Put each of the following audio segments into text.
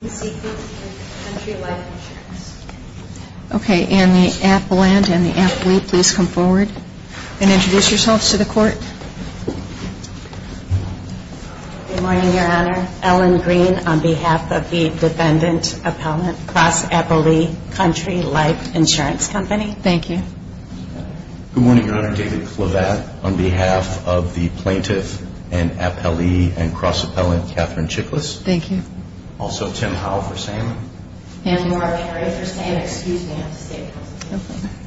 Ellen Green, on behalf of the Defendant Appellant, Cross Appellee, Country Life Insurance Company David Clevatte, on behalf of the Plaintiff and Appellee and Cross Appellant, Katherine Powell, for standing.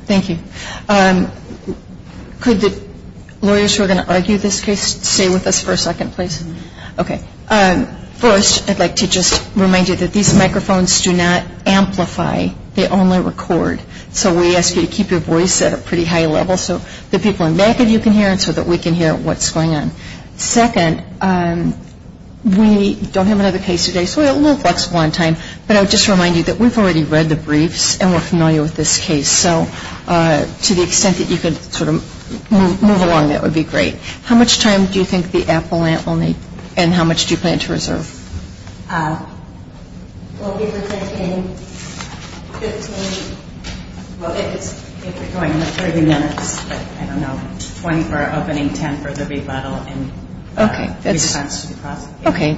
Thank you. Could the lawyers who are going to argue this case stay with us for a second, please? Okay. First, I'd like to just remind you that these microphones do not amplify. They only record. So we ask you to keep your voice at a pretty high level so the people in the back of you can hear so that we can hear what's going on. Second, we don't have another case today, so it will last one time. But I would just remind you that we've already read the briefs and we're familiar with this case. So to the extent that you could sort of move along, that would be great. How much time do you think the appellant will need and how much do you plan to reserve? Well, is it taking 15? Well, if it's going to take, I don't know, 24 of an intent for the rebuttal. Okay. Okay.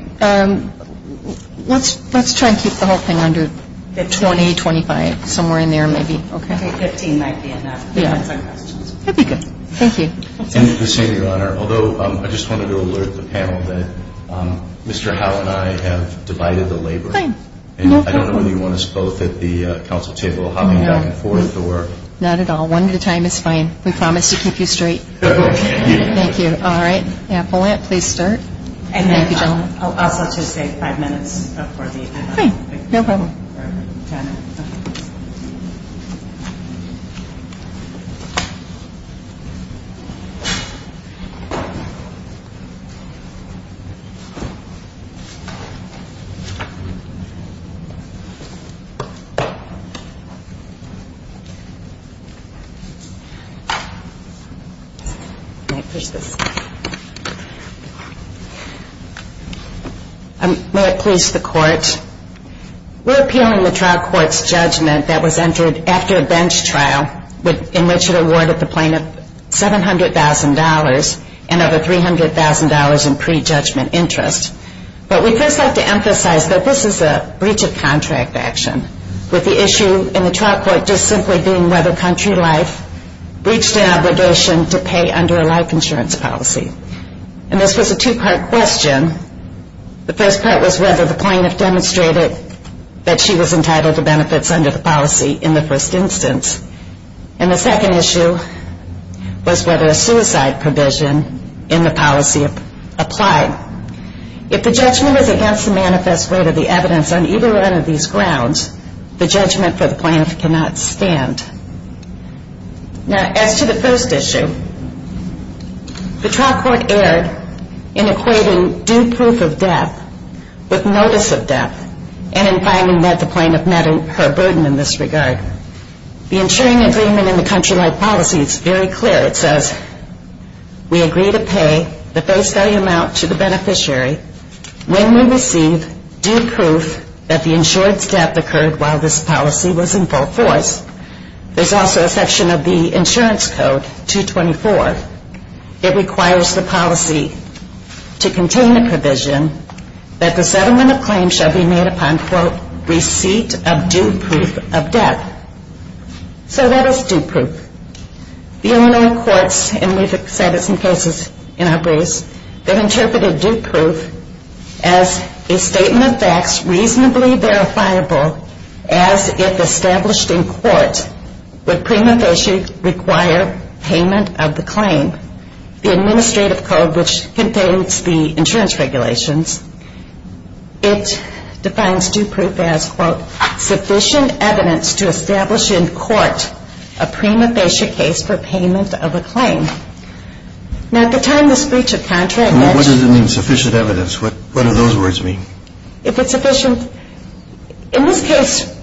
Let's try and keep the whole thing under 20, 25, somewhere in there maybe. I think 15 might be enough. Yeah. That'd be good. Thank you. Thank you for seeing me, Your Honor. Although, I just wanted to alert the panel that Mr. Howell and I have divided the labor. I don't know whether you want us both at the council table hopping back and forth. Not at all. One at a time is fine. We promise to keep you straight. Thank you. All right. Appellant, please start. I'll just take five minutes. Okay. No problem. Thank you. May it please the court. We're appealing the trial court's judgment that was entered after a bench trial in which it awarded the plaintiff $700,000 and over $300,000 in prejudgment interest. But we first have to emphasize that this is a breach of contract action with the issue in the trial court just simply being whether country life breached an obligation to pay under a life insurance policy. And this was a two-part question. The first part was whether the plaintiff demonstrated that she was entitled to benefits under the first instance. And the second issue was whether a suicide provision in the policy applied. If the judgment is against the manifest word of the evidence on either one of these grounds, the judgment for the plaintiff cannot stand. Now, as to the first issue, the trial court erred in equating due proof of death with notice of death, and in finding that the plaintiff met her burden in this regard. The insuring agreement in the country life policy is very clear. It says we agree to pay the first value amount to the beneficiary when we receive due proof that the insured step occurred while this policy was in full force. There's also a section of the insurance code, 224. It requires the policy to contain the provision that the settlement of claims shall be made upon, quote, receipt of due proof of death. So that is due proof. The Illinois courts, and we've established some cases in our groups, that interpreted due proof as a statement of facts reasonably verifiable as if established in court, the prima facie require payment of the claim. The administrative code, which contains the insurance regulations, it defines due proof as, quote, sufficient evidence to establish in court a prima facie case for payment of a claim. Now, at the time of the breach of contract... What does it mean, sufficient evidence? What do those words mean? Is it sufficient? In this case,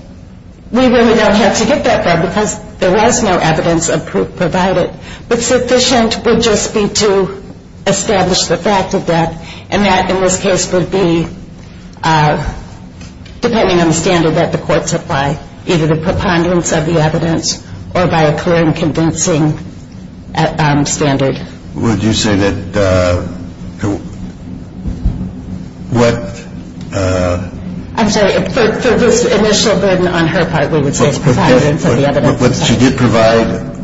we really don't have to hit that drum because there was no evidence of proof provided. But sufficient would just be to establish the fact of death, and that, in this case, would be depending on the standard that the courts apply, either the preponderance of the evidence or by a clear and convincing standard. Would you say that what... I'm sorry. If there was initial burden on her part, we would take providing for the evidence. What she did provide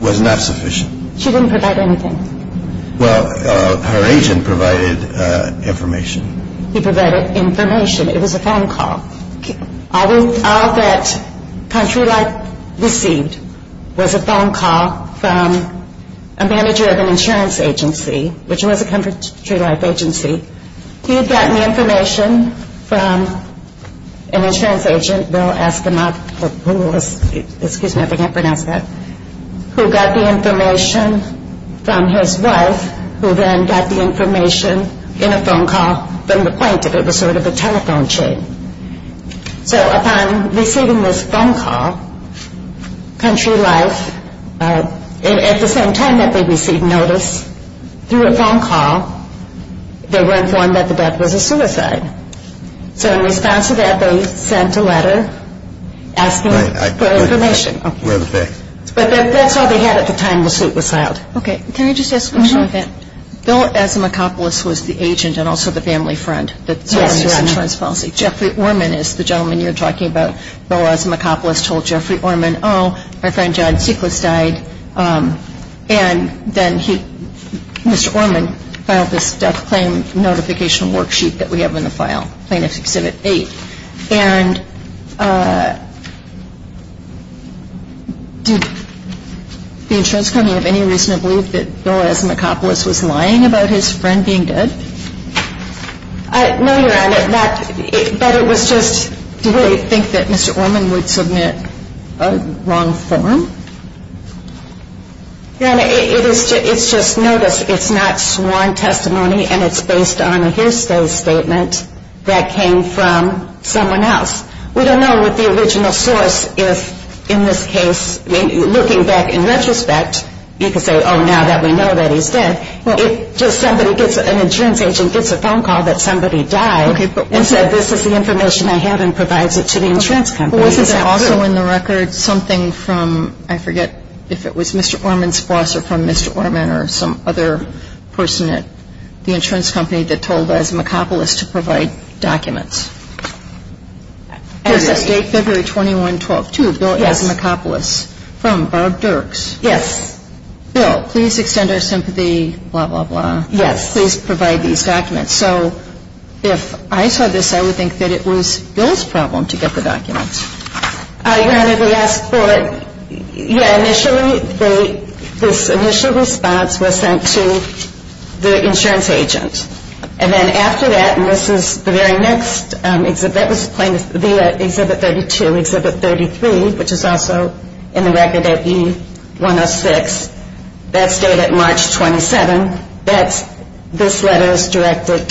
was not sufficient. She didn't provide anything. Well, her agent provided information. He provided information. It was a phone call. All that Country Life received was a phone call from a manager of an insurance agency, which was a Country Life agency. He had gotten information from an insurance agent, Will Aspinock, who got the information from his wife, who then got the information in a phone call from the point that it was sort of a telephone chain. So upon receiving this phone call, Country Life, at the same time that they received notice, through a phone call, they were informed that the death was a suicide. So in response to that, they sent a letter asking for information. But that's how they had it at the time the suit was filed. Okay. Can I just ask one more thing? Bill Asimakopoulos was the agent and also the family friend that signed the insurance policy. Jeffrey Orman is the gentleman you're talking about. Bill Asimakopoulos told Jeffrey Orman, oh, my friend John Sickless died. And then he, Mr. Orman, filed this death claim notification worksheet that we have in the file, plaintiff's exhibit 8. And did the insurance company of any reason believe that Bill Asimakopoulos was lying about his friend being dead? No, Your Honor. But it was just, do you really think that Mr. Orman would submit a wrong form? Your Honor, it's just notice. It's not sworn testimony, and it's based on a hearsay statement that came from someone else. We don't know what the original source is in this case. Looking back in retrospect, you could say, oh, now that we know that he's dead, if an insurance agent gets a phone call that somebody died and said, this is the information I have and provides it to the insurance company. Was there also in the record something from, I forget if it was Mr. Orman's boss or from Mr. Orman or some other person at the insurance company that told Asimakopoulos to provide documents? As of February 21, 2012, too, Bill Asimakopoulos. From Barb Dirks. Yes. Bill, please extend our sympathy, blah, blah, blah. Yes. Please provide these documents. So if I saw this, I would think that it was Bill's problem to get the documents. Your Honor, the last bullet, yeah, initially this initial response was sent to the insurance agent. And then after that, and this was the very next exhibit, that was the exhibit 32, exhibit 33, which is also in the record at E106. That's dated March 27. That's this letter is directed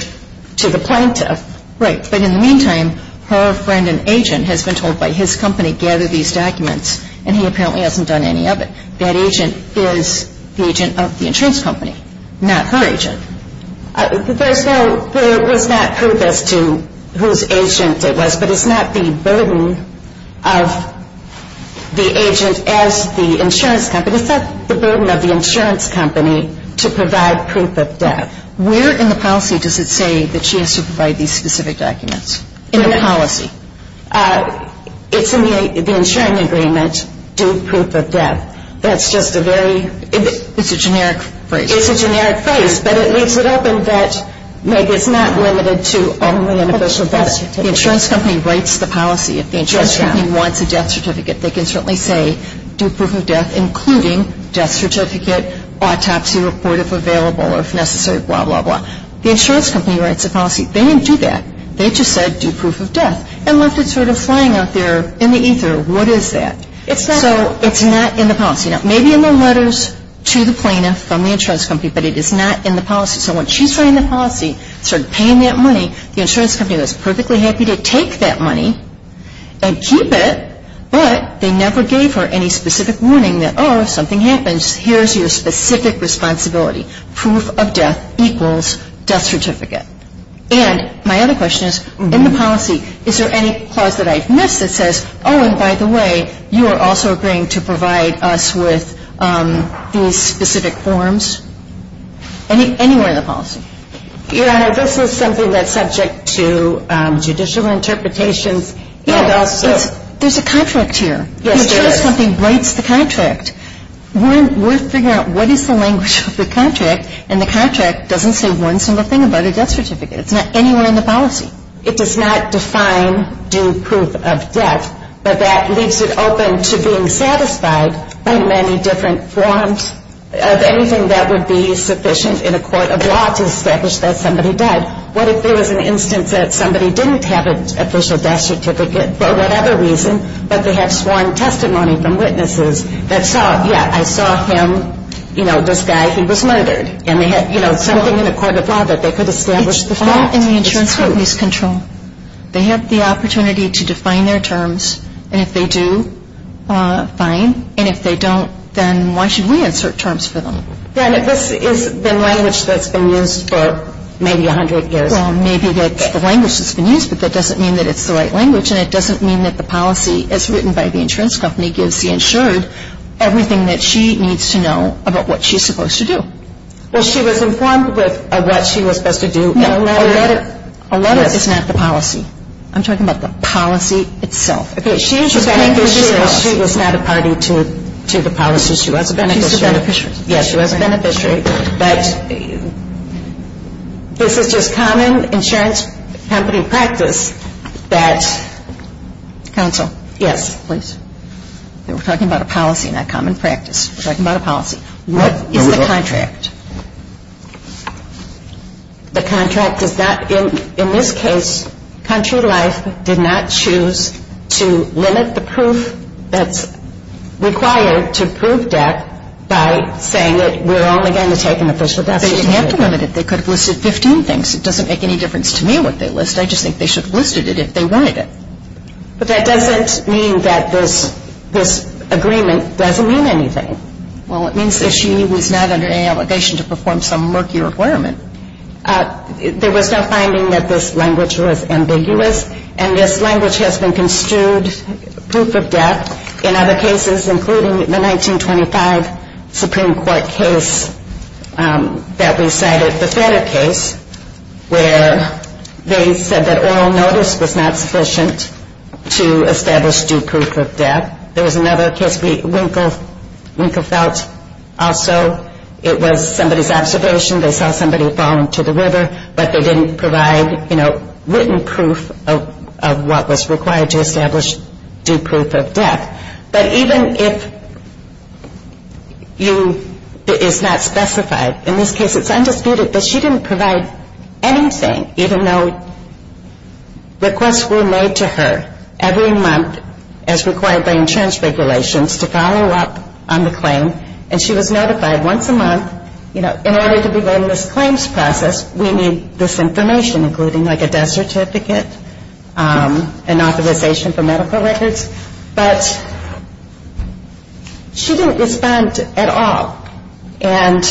to the plaintiff. Right. But in the meantime, her friend, an agent, has been told by his company, gather these documents, and he apparently hasn't done any of it. That agent is the agent of the insurance company, not her agent. There is not proof as to whose agent it was, but it's not the burden of the agent as the insurance company. It's not the burden of the insurance company to provide proof of death. Where in the policy does it say that she has to provide these specific documents? In the policy. It's in the insurance agreement, due proof of death. That's just a very, it's a generic phrase. It is a generic phrase, but it leaves it open that maybe it's not limited to only on the social side. The insurance company writes the policy. If the insurance company wants a death certificate, they can certainly say due proof of death, including death certificate, autopsy report if available, if necessary, blah, blah, blah. The insurance company writes the policy. They didn't do that. They just said due proof of death. Unless it's sort of flying out there in the ether. What is that? It's not in the policy. It may be in the letters to the plaintiff from the insurance company, but it is not in the policy. So when she's writing the policy, sort of paying that money, the insurance company is perfectly happy to take that money and keep it, but they never gave her any specific warning that, oh, if something happens, here's your specific responsibility. Proof of death equals death certificate. And my other question is, in the policy, is there any clause that I missed that says, oh, and by the way, you are also agreeing to provide us with these specific forms? Anywhere in the policy? Your Honor, this was something that's subject to judicial interpretations. There's a contract here. The insurance company writes the contract. We're figuring out what is the language of the contract, and the contract doesn't say once in the pen about a death certificate. It's not anywhere in the policy. It does not define due proof of death, but that leaves it open to being satisfied by many different forms. Anything that would be sufficient in a court of law to establish that somebody died. What if there was an instance that somebody didn't have an official death certificate for whatever reason, but they had sworn testimony from witnesses that saw, yeah, I saw him, you know, this guy, he was murdered, and they had, you know, something in a court of law that they could establish the fact. It's not in the insurance company's control. They have the opportunity to define their terms, and if they do, fine. And if they don't, then why should we insert terms for them? Yeah, this is the language that's been used for maybe 100 years. Well, maybe the language that's been used, but that doesn't mean that it's the right language, and it doesn't mean that the policy as written by the insurance company gives the insurer everything that she needs to know about what she's supposed to do. Well, she was informed of what she was supposed to do in a letter. A letter is not the policy. I'm talking about the policy itself. Okay, she was not a party to the policy. She was a beneficiary. Yes, she was a beneficiary. But this is just common insurance company practice that... Counsel. Yes, please. We're talking about a policy, not common practice. We're talking about a policy. What is the contract? The contract does not, in this case, Country Life did not choose to limit the proof that's required to prove that by saying that we're only going to take in the first 15 minutes. They didn't have to limit it. They could have listed 15 things. It doesn't make any difference to me what they list. I just think they should have listed it if they wanted it. But that doesn't mean that this agreement doesn't mean anything. Well, it means that she was not under any obligation to perform some murky requirement. There was a finding that this language was ambiguous, and this language has been construed proof of that in other cases, including the 1925 Supreme Court case that we cited, the Senate case, where they said that oral notice was not sufficient to establish due proof of death. There was another case, Winkle Feltz, also. It was somebody's observation. They saw somebody fall into the river, but they didn't provide, you know, written proof of what was required to establish due proof of death. But even if it's not specified, in this case it's undisputed that she didn't provide anything, even though requests were made to her every month as required by insurance regulations to follow up on the claim. And she was notified once a month, you know, in order to be going through this claims process, we need this information, including like a death certificate, an authorization for medical records. But she didn't respond at all, and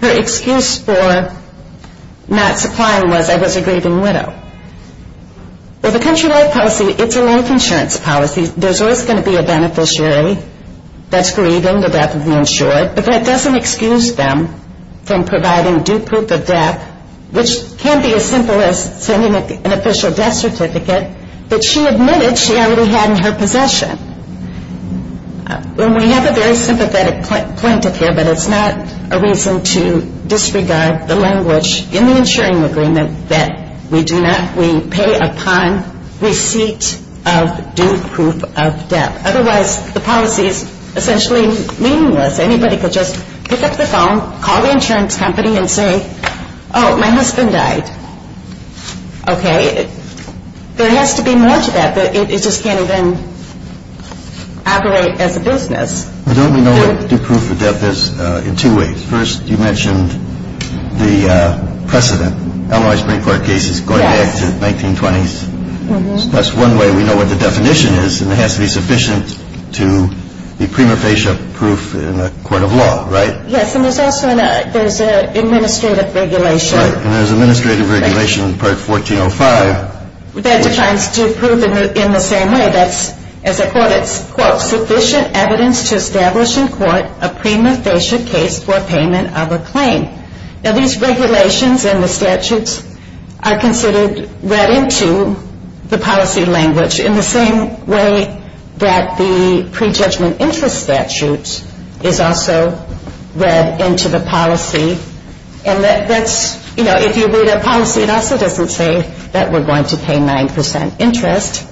her excuse for not supplying was, I was a grieving widow. Well, the countrywide policy, it's a life insurance policy. There's always going to be a beneficiary that's grieving the death of an insurer, but that doesn't excuse them from providing due proof of death, which can be as simple as sending an official death certificate, but she admitted she already had in her possession. And we have a very sympathetic point of view that it's not a reason to disregard the language in the insuring agreement that we do not, we pay a time receipt of due proof of death. Otherwise, the policy is essentially meaningless. Anybody could just pick up the phone, call the insurance company and say, oh, my husband died. Okay. There has to be much of that, but it just can't even operate as a business. We don't even know what due proof of death is in two ways. First, you mentioned the precedent, Illinois Supreme Court cases going back to the 1920s. That's one way we know what the definition is, and it has to be sufficient to be prima facie proof in the court of law, right? Yes, and there's also an administrative regulation. And there's an administrative regulation in Part 1405. That's trying to prove in the same way that's, as I quote it, quote, sufficient evidence to establish in court a prima facie case for payment of a claim. Now, these regulations and the statutes are considered read into the policy language in the same way that the pre-judgment interest statutes is also read into the policy. And that's, you know, if you read a policy in a different way, that we're going to pay 9% interest.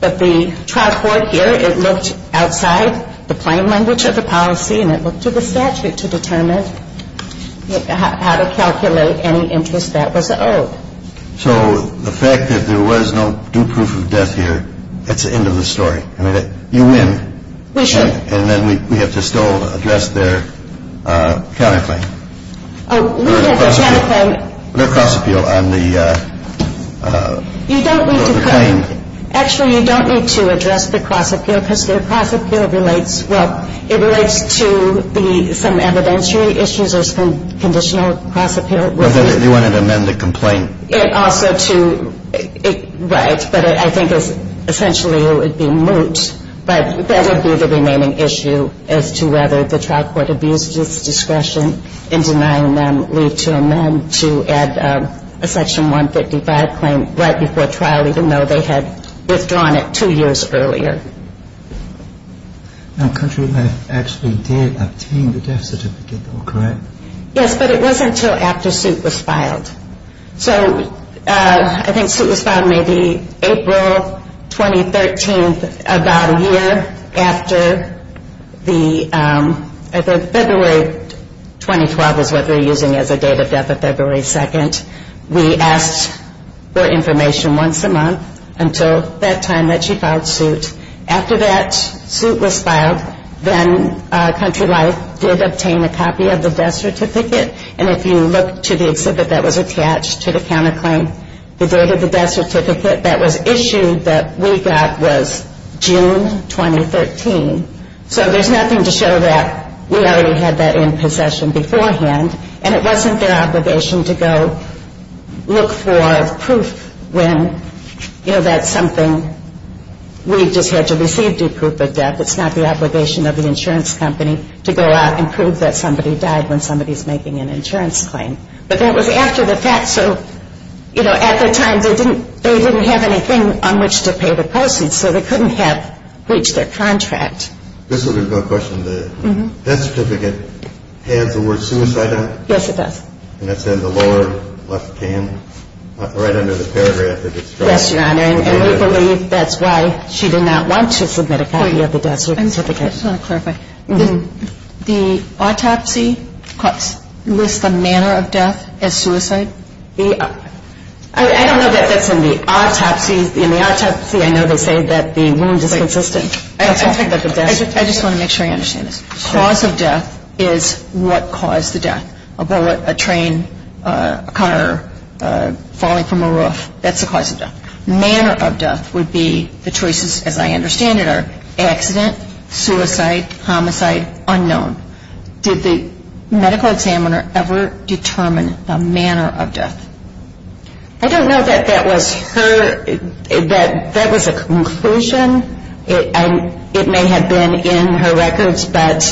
But the charge board here, it looked outside the plain language of the policy, and it looked to the statute to determine how to calculate any interest that was owed. So the fact that there was no due proof of death here, that's the end of the story. You win. We should. And then we have to still address their counterfeit. Oh, let me just add something. Their cross-appeal on the claim. Actually, you don't need to address the cross-appeal because their cross-appeal relates, well, it relates to some evidentiary issues or some conditional cross-appeal. You wanted to amend the complaint. It offered to, right, but I think essentially it would be moot. But that would be the remaining issue as to whether the trial court abused its discretion in denying them leave to amend to add a section 155 claim right before trial, even though they had withdrawn it two years earlier. And the country has actually did obtain the death certificate, correct? Yes, but it wasn't until after suit was filed. So I think suit was filed maybe April 2013, about a year after the February 2012 was what we're using as a date of death of February 2nd. We asked for information once a month until that time that you filed suit. After that suit was filed, then Country Life did obtain a copy of the death certificate, and if you look to the exhibit that was attached to the counterclaim, the date of the death certificate that was issued that we got was June 2013. So there's nothing to show that we already had that in possession beforehand, and it wasn't their obligation to go look for proof when, you know, that's something we just had to receive due proof of death. It's not the obligation of the insurance company to go out and prove that somebody died when somebody's making an insurance claim. But that was after the fact, so, you know, at the time, they didn't have anything on which to pay the persons, so they couldn't have breached their contract. This is a good question. The death certificate has the word suicide on it? Yes, it does. And it's in the lower left hand, right under the paragraph. Yes, Your Honor, and we believe that's why she did not want to submit a copy of the death certificate. I just want to clarify. The autopsy lists the manner of death as suicide? I don't know that that's in the autopsy. In the autopsy, I know they say that the wounds are consistent. I just want to make sure I understand this. Cause of death is what caused the death, a bullet, a train, a car falling from a roof. That's the cause of death. Manner of death would be the choices, as I understand it, are accident, suicide, homicide, unknown. Did the medical examiner ever determine the manner of death? I don't know that that was her, that that was a conclusion. It may have been in her records, but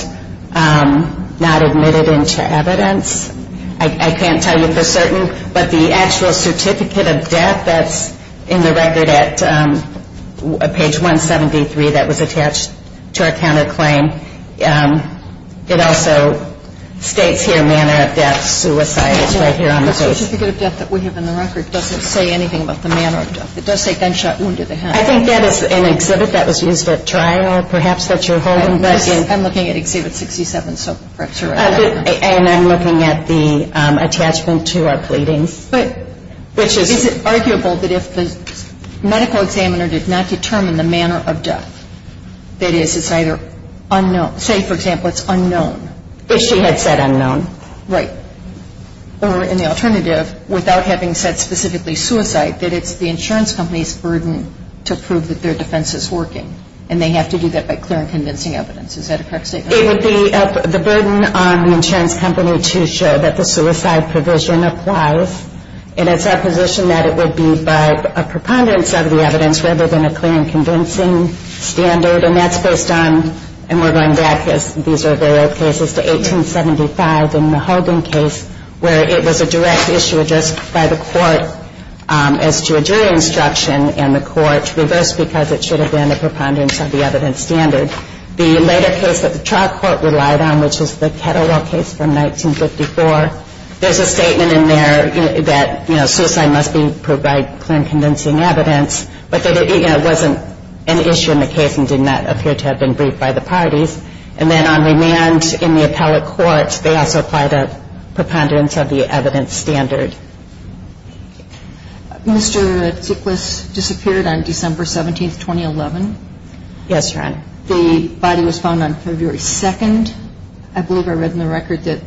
not admitted into evidence. I can't tell you for certain, but the actual certificate of death that's in the record at page 173, that was attached to her counterclaim, it also states here manner of death, suicide, right here on the page. The certificate of death that we have in the record doesn't say anything about the manner of death. It does say gunshot wound to the head. I think that is an exhibit that was used at trial, perhaps, that you're holding. I'm looking at exhibit 67, so perhaps you're right. And I'm looking at the attachment to our pleadings. It is arguable that if the medical examiner does not determine the manner of death, that it is either unknown, say, for example, it's unknown. If she had said unknown. Right. Or in the alternative, without having said specifically suicide, that it's the insurance company's burden to prove that their defense is working, and they have to do that by clear and convincing evidence. Is that a correct statement? It would be the burden on the insurance company to show that the suicide provision applies, and it's our position that it would be by a preponderance of the evidence, rather than a clear and convincing standard, and that's based on, and we're going back as these are various cases to 1875 in the Holden case, where it was a direct issue addressed by the court as to a jury instruction, and the court reversed because it should have been a preponderance of the evidence standard. The later case that the trial court relied on, which was the Kettlewell case from 1954, there's a statement in there that suicide must be proved by clear and convincing evidence, but that it wasn't an issue in the case and did not appear to have been proved by the parties. And then on remand in the appellate court, they also apply the preponderance of the evidence standard. Mr. Tickless disappeared on December 17th, 2011? That's right. The body was found on February 2nd. I believe I read in the record that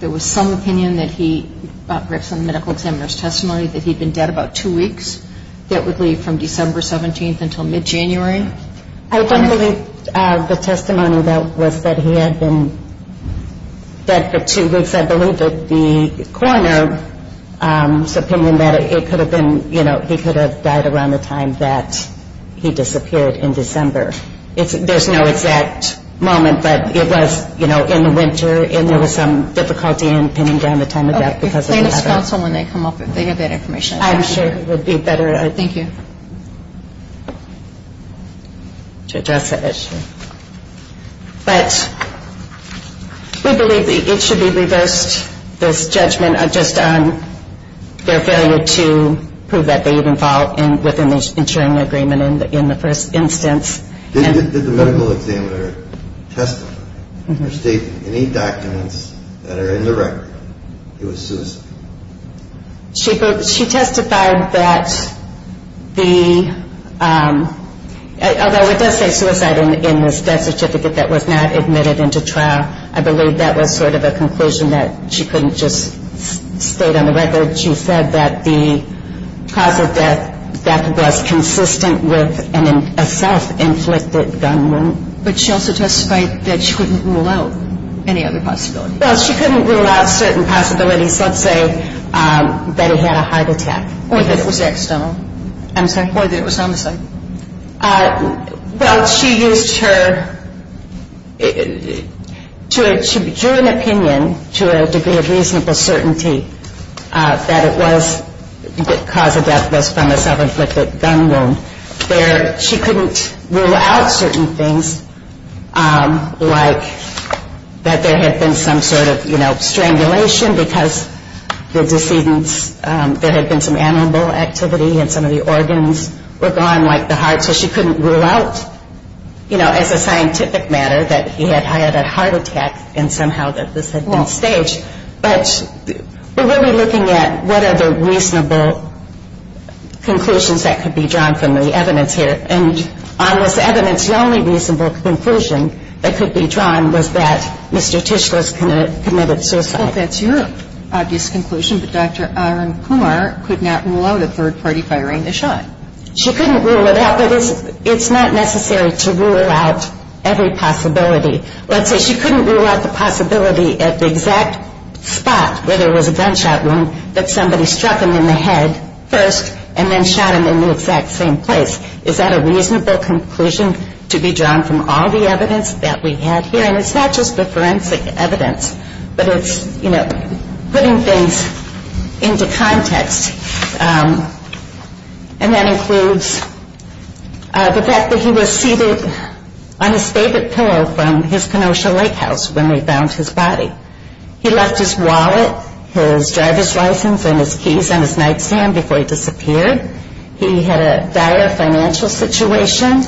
there was some opinion that he, from the medical examiner's testimony, that he'd been dead about two weeks, that would leave from December 17th until mid-January. I don't believe the testimony was that he had been dead for two weeks. I believe that the coroner's opinion that it could have been, you know, he could have died around the time that he disappeared in December. There's no exact moment, but it was, you know, in the winter, and there was some difficulty in pinning down the time of death because of the weather. Okay. If they can call someone, they can get that information. I'm sure it would be better. Thank you. To address that issue. But we believe that it should be reversed, this judgment on just their failure to prove that they even followed within the insuring agreement in the first instance. Did the medical examiner testify or state any documents that are in the record? She testified that the, although it does say suicide in the death certificate that was not admitted into trial. I believe that was sort of a conclusion that she couldn't just state on the record. She said that the proper death was consistent with a self-inflicted gun wound. But she also testified that she couldn't rule out any other possibility. Well, she couldn't rule out certain possibilities. Let's say that he had a heart attack. Or that it was external. Or that it was homicide. Well, she used her, she became an opinion to a degree of reasonable certainty that it was the cause of death was from a self-inflicted gun wound. She couldn't rule out certain things like that there had been some sort of strangulation because there had been some animal activity and some of the organs were gone like the heart. So she couldn't rule out as a scientific matter that he had had a heart attack and somehow that this had been staged. But we're really looking at what are the reasonable conclusions that could be drawn from the evidence here. And on this evidence the only reasonable conclusion that could be drawn was that Mr. Tischler's committed suicide. Well, that's your obvious conclusion that Dr. Aaron Kumar could not rule out a third-party firing a shot. She couldn't rule it out. It's not necessary to rule out every possibility. Let's say she couldn't rule out the possibility at the exact spot where there was a gunshot wound that somebody struck him in the head first and then shot him in the exact same place. Is that a reasonable conclusion to be drawn from all the evidence that we have here? And it's not just the forensic evidence, but it's, you know, putting things into context. And that includes the fact that he was seated on his favorite pillow from his Kenosha lighthouse when we found his body. He left his wallet, his driver's license, and his keys on his nightstand before he disappeared. He had a dire financial situation.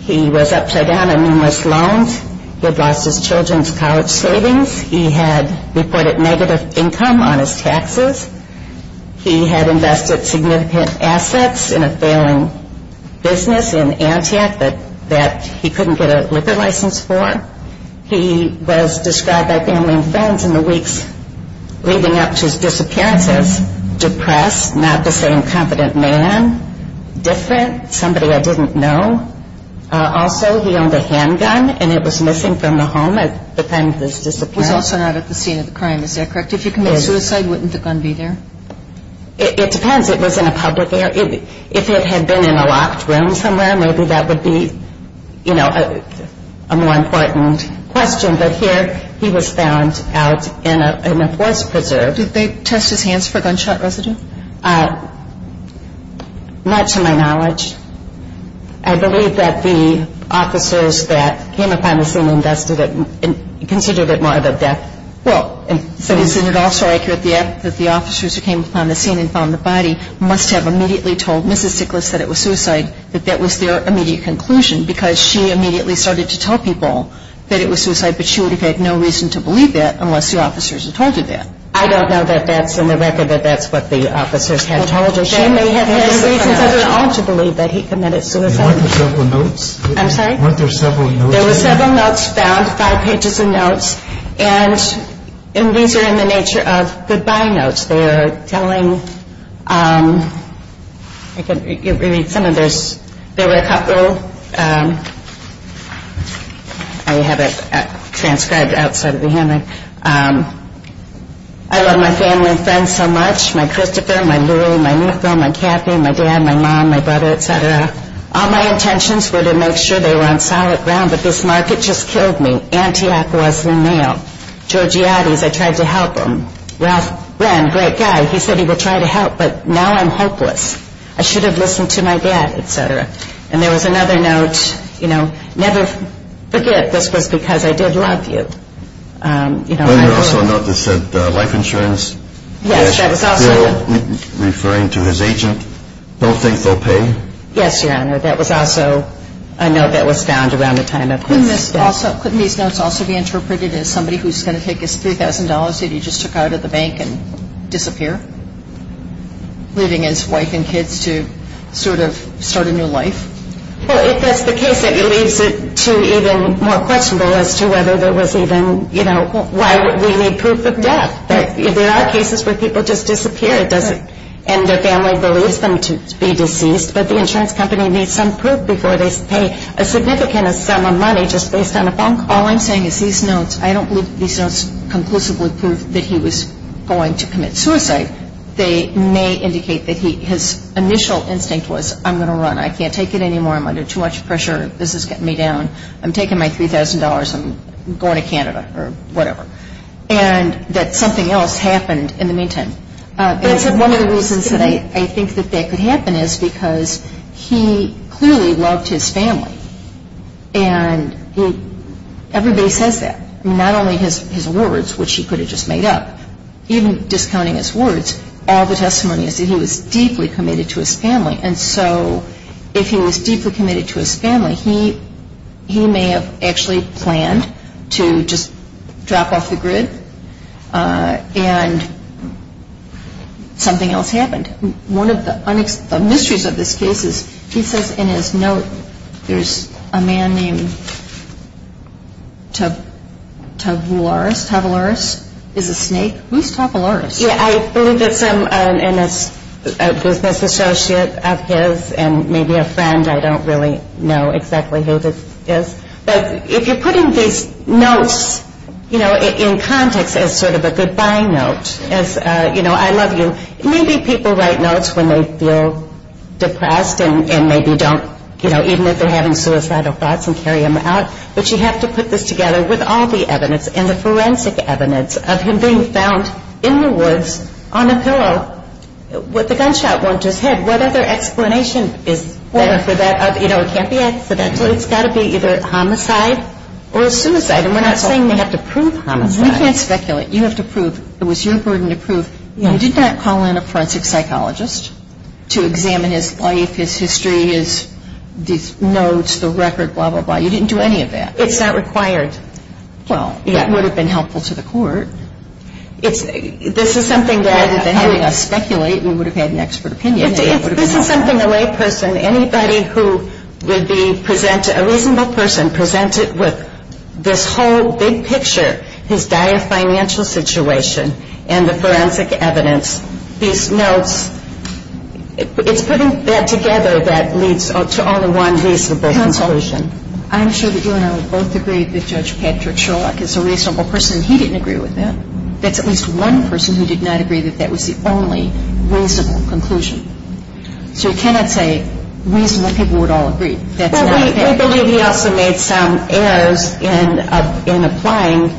He was upside down on numerous loans. He had lost his children's college savings. He had reported negative income on his taxes. He had invested significant assets in a failing business in Antioch that he couldn't get a liquid license for. He was described by family and friends in the weeks leading up to his disappearance as depressed, not the same confident man, different, somebody I didn't know. Also, he owned a handgun, and it was missing from the home at the time of his disappearance. He was also not at the scene of the crime. Is that correct? If you commit a suicide, wouldn't the gun be there? It depends if it was in a public area. If it had been in a locked room somewhere, maybe that would be, you know, a more important question. But here he was found out in a forest preserve. Did they test his hands for gunshot residue? Not to my knowledge. I believe that the officers that came upon the scene considered it more of a death. So isn't it also accurate that the officers who came upon the scene and found the body must have immediately told Mrs. Sickless that it was suicide, that that was their immediate conclusion, because she immediately started to tell people that it was suicide, but she would have had no reason to believe that unless the officers had told her that. I don't know that that's in the record that that's what the officers had told her. She may have had no reason at all to believe that he committed suicide. Weren't there several notes? I'm sorry? Weren't there several notes? There were several notes found, five pages of notes, and these are in the nature of goodbye notes. They're telling, I think it would be some of those, there were a couple. I have it transcribed outside of the hammer. I love my family and friends so much, my Christopher, my Louie, my Nicole, my Kathy, my dad, my mom, my brother, et cetera. All my intentions were to make sure they were on solid ground, but this market just killed me. Antioch was the nail. Georgiatis, I tried to help him. Ralph Brenn, great guy, he said he would try to help, but now I'm hopeless. I should have listened to my dad, et cetera. And there was another note. Never forget this was because I did love you. There was also a note that said, like insurance, referring to his agent, don't think they'll pay. Yes, Your Honor, that was also, I know that was found around the time of his death. Couldn't these notes also be interpreted as somebody who's going to take his $3,000 that he just took out of the bank and disappear, leaving his wife and kids to sort of start a new life? Well, if that's the case, it leads to even more questionable as to whether there was even, you know, why would we need proof of death? There are cases where people just disappear and their family believes them to be deceased, but the insurance company needs some proof before they pay a significant sum of money just based on a phone call. All I'm saying is these notes, I don't believe these notes conclusively prove that he was going to commit suicide. They may indicate that his initial instinct was, I'm going to run. I can't take it anymore. I'm under too much pressure. This is getting me down. I'm taking my $3,000 and going to Canada or whatever, and that something else happened in the meantime. One of the reasons that I think that that could happen is because he clearly loved his family, and everybody says that, not only his words, which he could have just made up, even discounting his words, all the testimonies, he was deeply committed to his family, and so if he was deeply committed to his family, he may have actually planned to just drop off the grid and something else happened. One of the mysteries of this case is he says in his notes there's a man named Tavouris, Tavouris is a snake. Who's Tavouris? Yeah, I believe there's a business associate of his and maybe a friend. I don't really know exactly who this is, but if you're putting these notes in context as sort of a goodbye note, as, you know, I love you, maybe people write notes when they feel depressed and maybe don't, you know, even if they're having suicidal thoughts and carry them out, but you have to put this together with all the evidence and the forensic evidence of him being found in the woods on a pillow with a gunshot wound to his head. What other explanation is there for that? You know, it can't be asked for that, but it's got to be either homicide or suicide, and we're not saying we have to prove homicide. Well, you can't speculate. You have to prove it was your burden to prove. You did not call in a forensic psychologist to examine his life, his history, his notes, the record, blah, blah, blah. You didn't do any of that. It's not required. Well, it would have been helpful to the court. If this is something that would have been helping us speculate, we would have had an expert opinion. If this is something the right person, anybody who would be presented, a reasonable person, presented with this whole big picture, his dire financial situation and the forensic evidence, these notes, it's putting that together that leads to all the one reasonable conclusion. I'm sure that you and I would both agree that Judge Patrick Schrock is a reasonable person. He didn't agree with that. That's at least one person who did not agree that that was the only reasonable conclusion. So you cannot say reasonable people would all agree. Well, we believe he also made some errors in applying,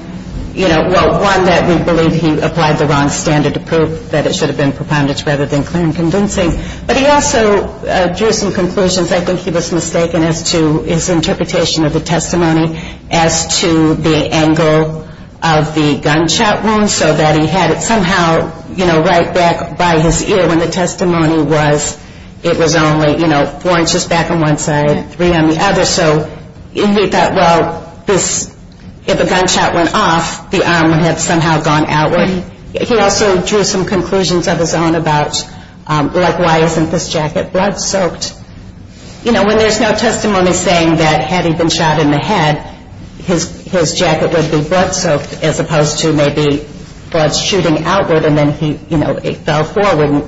you know, one that we believe he applied the wrong standard approach, that it should have been preponderance rather than clear and convincing. But he also drew some conclusions. I think he was mistaken as to his interpretation of the testimony as to the angle of the gunshot wound so that he had it somehow, you know, right back by his ear when the testimony was, it was only, you know, four inches back on one side, three on the other. So he thought, well, if the gunshot went off, the arm would have somehow gone outward. And he also drew some conclusions of his own about, like, why isn't this jacket blood soaked? You know, when there's no testimony saying that had he been shot in the head, his jacket would be blood soaked as opposed to maybe blood shooting outward and then he, you know, it fell forward.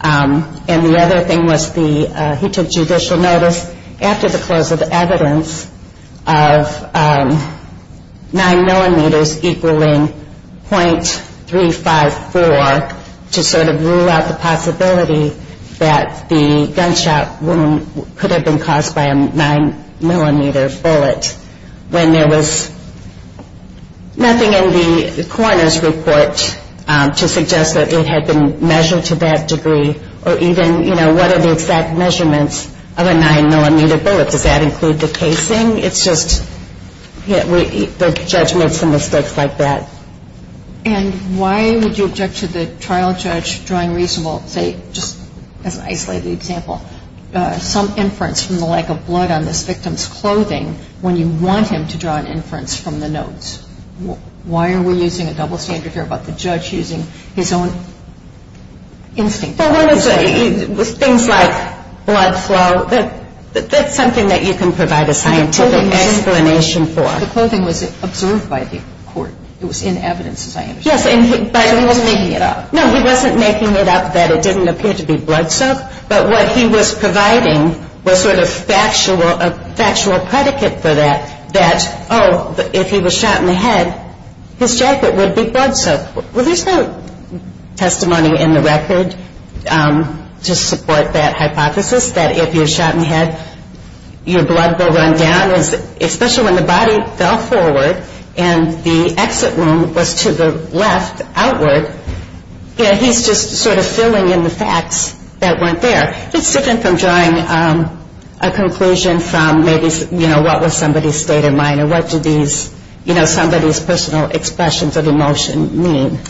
And the other thing was he took judicial notice after the close of evidence of 9 millimeters equaling .354 to sort of rule out the possibility that the gunshot wound could have been caused by a 9-millimeter bullet when there was nothing in the coroner's report to suggest that it had been measured to that degree. Or even, you know, what are the exact measurements of a 9-millimeter bullet? Does that include the casing? It's just, you know, there's judgments and mistakes like that. And why would you object to the trial judge drawing reasonable, say, just as an isolated example, some inference from the lack of blood on the victim's clothing when you want him to draw an inference from the notes? Why are we losing a double standard here about the judge using his own instinct? Well, with things like blood flow, that's something that you can provide a scientific explanation for. The clothing was observed by the court. It was in evidence, as I understand it. Yes, and he finally, no, he wasn't making it up that it didn't appear to be blood soaked, but what he was providing was sort of a factual predicate for that, that, oh, if he was shot in the head, his jacket would be blood soaked. Well, there's no testimony in the record to support that hypothesis that if you're shot in the head, your blood will run down, especially when the body fell forward and the exit wound was to the left, outward. Yeah, he's just sort of assuming in the facts that weren't there. It's different from drawing a conclusion from maybe, you know, what was somebody's state of mind or what do these, you know, somebody's personal expressions of emotion mean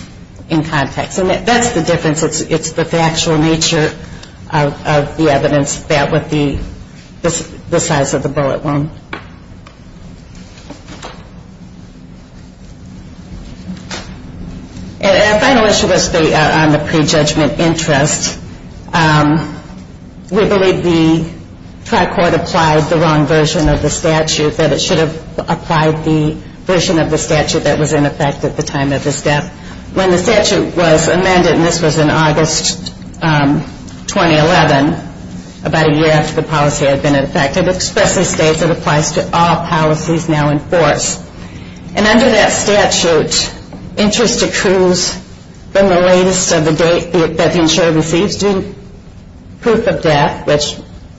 in context. And that's the difference with the actual nature of the evidence that would be the size of a bullet wound. And a final issue is on the prejudgment interest. We believe the trial court applied the wrong version of the statute, that it should have applied the version of the statute that was in effect at the time of the death. When the statute was amended, and this was in August 2011, about a year after the policy had been in effect, it especially states it applies to all policies now in force. And under that statute, interest accrues from the latest of the date that the insurer receives proof of death, which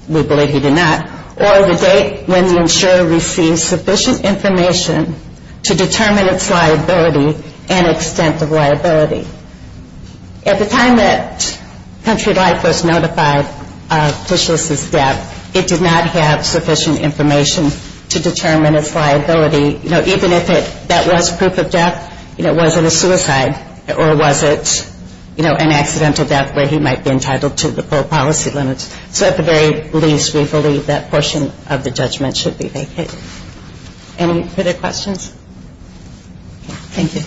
we believe he did not, or the date when the insurer receives sufficient information to determine its liability and extent of liability. At the time that Countrywide was notified of Fisher's death, it did not have sufficient information to determine its liability. You know, even if that was proof of death, you know, was it a suicide or was it, you know, an accidental death where he might be entitled to the full policy limits. So at the very least, we believe that portion of the judgment should be vacated. Any other questions? Thank you.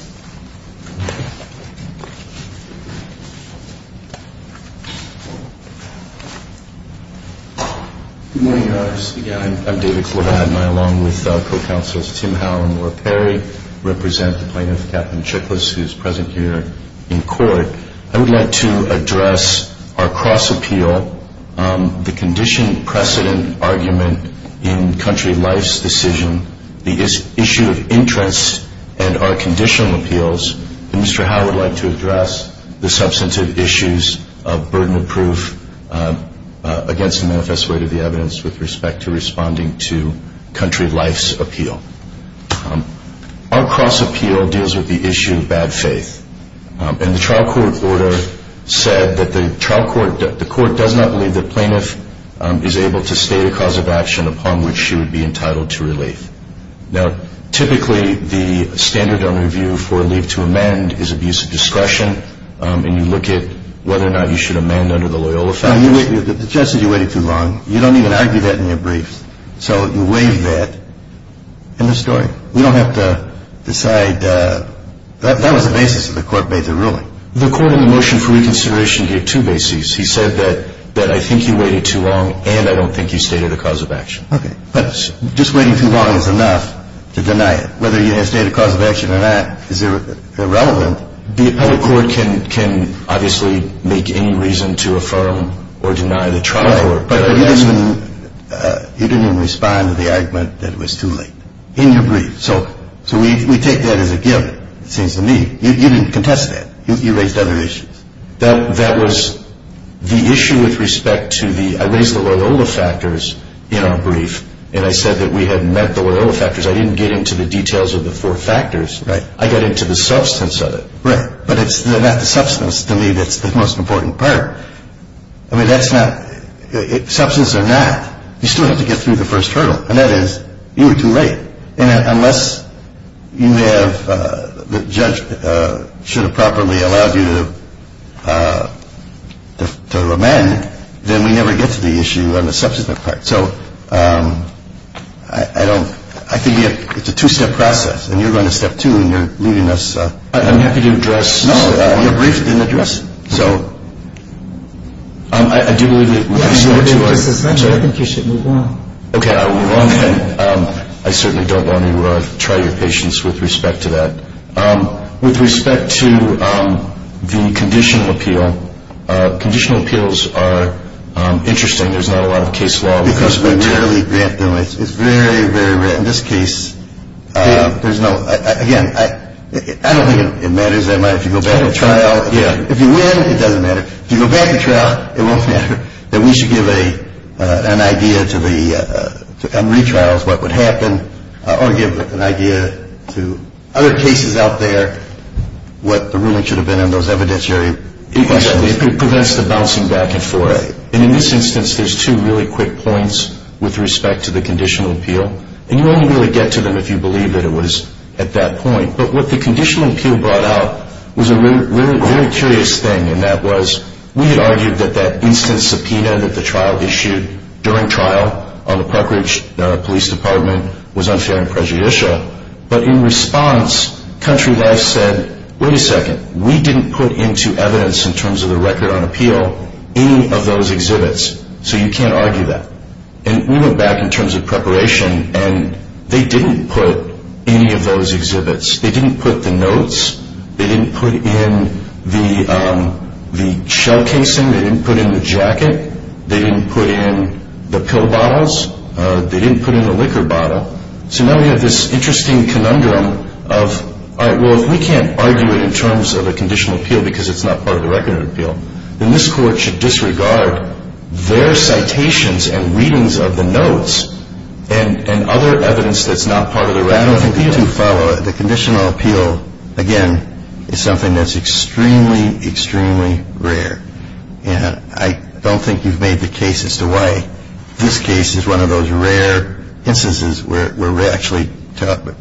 Good morning, Your Honor. I'm David Klobad, and I, along with the four counselors, Tim Howell and Laura Perry, represent the plaintiff, Captain Chiklis, who is present here in court. I would like to address our cross-appeal, the condition precedent argument in Country of Life's decision, the issue of interest and our conditioning appeals, and Mr. Howell would like to address the substantive issues of burden of proof against the manifesto rate of the evidence with respect to responding to Country of Life's appeal. Our cross-appeal deals with the issue of bad faith, and the trial court order said that the trial court does not believe the plaintiff is able to state a cause of action upon which she would be entitled to relief. Now, typically, the standard of review for relief to amend is abuse of discretion, and you look at whether or not you should amend under the Loyola statute. The judge said you waited too long. You don't even argue that in your briefs. So you waited that. End of story. We don't have to decide that. That was the basis of the court-made ruling. The court in the motion for reconsideration gave two bases. He said that I think you waited too long and I don't think you stated a cause of action. Okay. But just waiting too long is enough to deny it. Whether you had stated a cause of action or not is irrelevant. The appellate court can obviously make any reason to affirm or deny the trial. But you didn't respond to the argument that it was too late in your brief. So we take that as a gift, it seems to me. You didn't contest that. You raised other issues. That was the issue with respect to the – I raised the Loyola factors in our brief, and I said that we had medical Loyola factors. I didn't get into the details of the four factors. I got into the substance of it. Right. But it's not the substance, to me, that's the most important part. I mean, that's not – substance or not, you still have to get through the first trial, and that is you were too late. Unless you have – the judge should have properly allowed you to amend, then we never get to the issue of the substance effect. So I don't – I think it's a two-step process, and you're going to step two, and you're leaving us – I'm happy to address – No, your brief has been addressed. So I do believe that – I think you should move on. Okay, I'll move on. I certainly don't want to try your patience with respect to that. With respect to the conditional appeal, conditional appeals are interesting. There's not a lot of case law. It's very, very rare. In this case, there's no – again, I don't think it matters that much. If you go back to trial – If you win, it doesn't matter. If you go back to trial, it won't matter. We should give an idea to the – on retrials, what would happen, or give an idea to other cases out there, what the ruling should have been on those evidentiary people. It prevents the bouncing back of 4A. And in this instance, there's two really quick points with respect to the conditional appeal, and you only really get to them if you believe that it was at that point. But what the conditional appeal brought out was a really curious thing, and that was we had argued that that instant subpoena that the trial issued during trial on the proper police department was unfair and prejudicial. But in response, country law said, wait a second, we didn't put into evidence in terms of the record on appeal any of those exhibits, so you can't argue that. And we went back in terms of preparation, and they didn't put any of those exhibits. They didn't put the notes. They didn't put in the shell casing. They didn't put in the jacket. They didn't put in the pill bottles. They didn't put in the liquor bottle. So now we have this interesting conundrum of, all right, well, if we can't argue it in terms of a conditional appeal because it's not part of the record of appeal, then this court should disregard their citations and readings of the notes and other evidence that's not part of the record of appeal. The conditional appeal, again, is something that's extremely, extremely rare. And I don't think you've made the case as to why this case is one of those rare instances where we're actually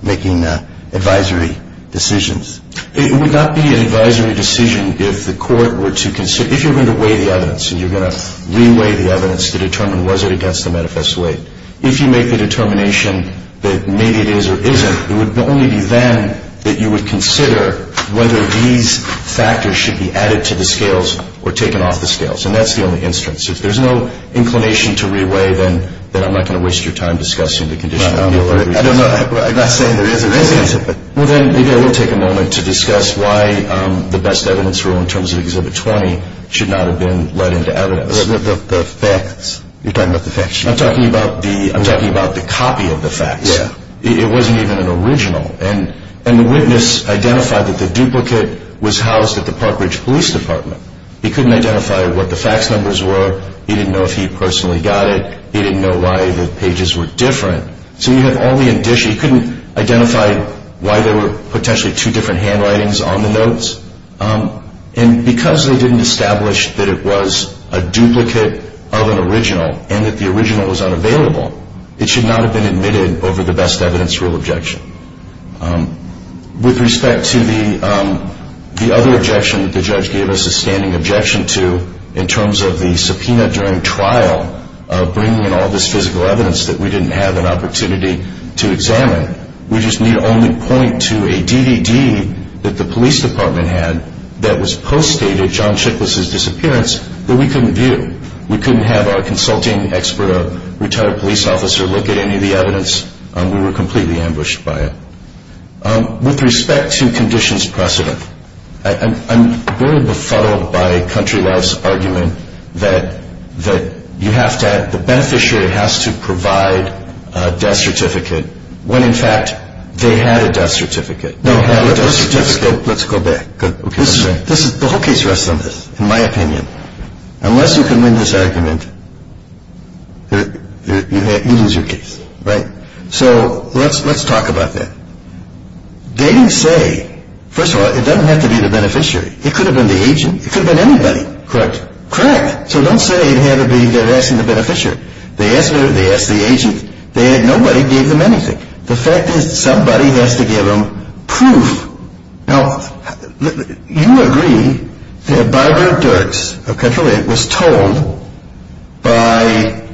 making advisory decisions. It would not be an advisory decision if the court were to consider, if you're going to weigh the evidence and you're going to re-weigh the evidence to determine was it against the manifest way, if you make the determination that maybe it is or isn't, it would only be then that you would consider whether these factors should be added to the scales or taken off the scales. And that's the only instance. If there's no inclination to re-weigh, then I'm not going to waste your time discussing the conditional appeal. I'm not saying there isn't. Well, then, we'll take a moment to discuss why the best evidence rule in terms of Exhibit 20 should not have been let into evidence. What about the facts? You're talking about the facts? I'm talking about the copy of the facts. It wasn't even an original. And the witness identified that the duplicate was housed at the Park Ridge Police Department. He couldn't identify what the facts numbers were. He didn't know if he personally got it. He didn't know why the pages were different. So you have only a dish. He couldn't identify why there were potentially two different handwritings on the notes. And because they didn't establish that it was a duplicate of an original and that the original was unavailable, it should not have been admitted over the best evidence rule objection. With respect to the other objection that the judge gave us a standing objection to in terms of the subpoena during trial bringing in all this physical evidence that we didn't have an opportunity to examine, we just need to only point to a DVD that the police department had that was post-dated John Schicklis' disappearance that we couldn't view. We couldn't have our consulting expert, a retired police officer, look at any of the evidence. We were completely ambushed by it. With respect to conditions precedent, I'm really befuddled by Country Life's argument that the beneficiary has to provide a death certificate when, in fact, they had a death certificate. Let's go back. The whole case rests on this, in my opinion. Unless you can win this argument, you lose your case. So let's talk about that. They didn't say, first of all, it doesn't have to be the beneficiary. It could have been the agent. It could have been anybody. Correct. Correct. So don't say you had to be asking the beneficiary. They asked the agent. They had no way to give them anything. The fact is somebody has to give them proof. Now, you agree that Barbara Dirks of Country Life was told by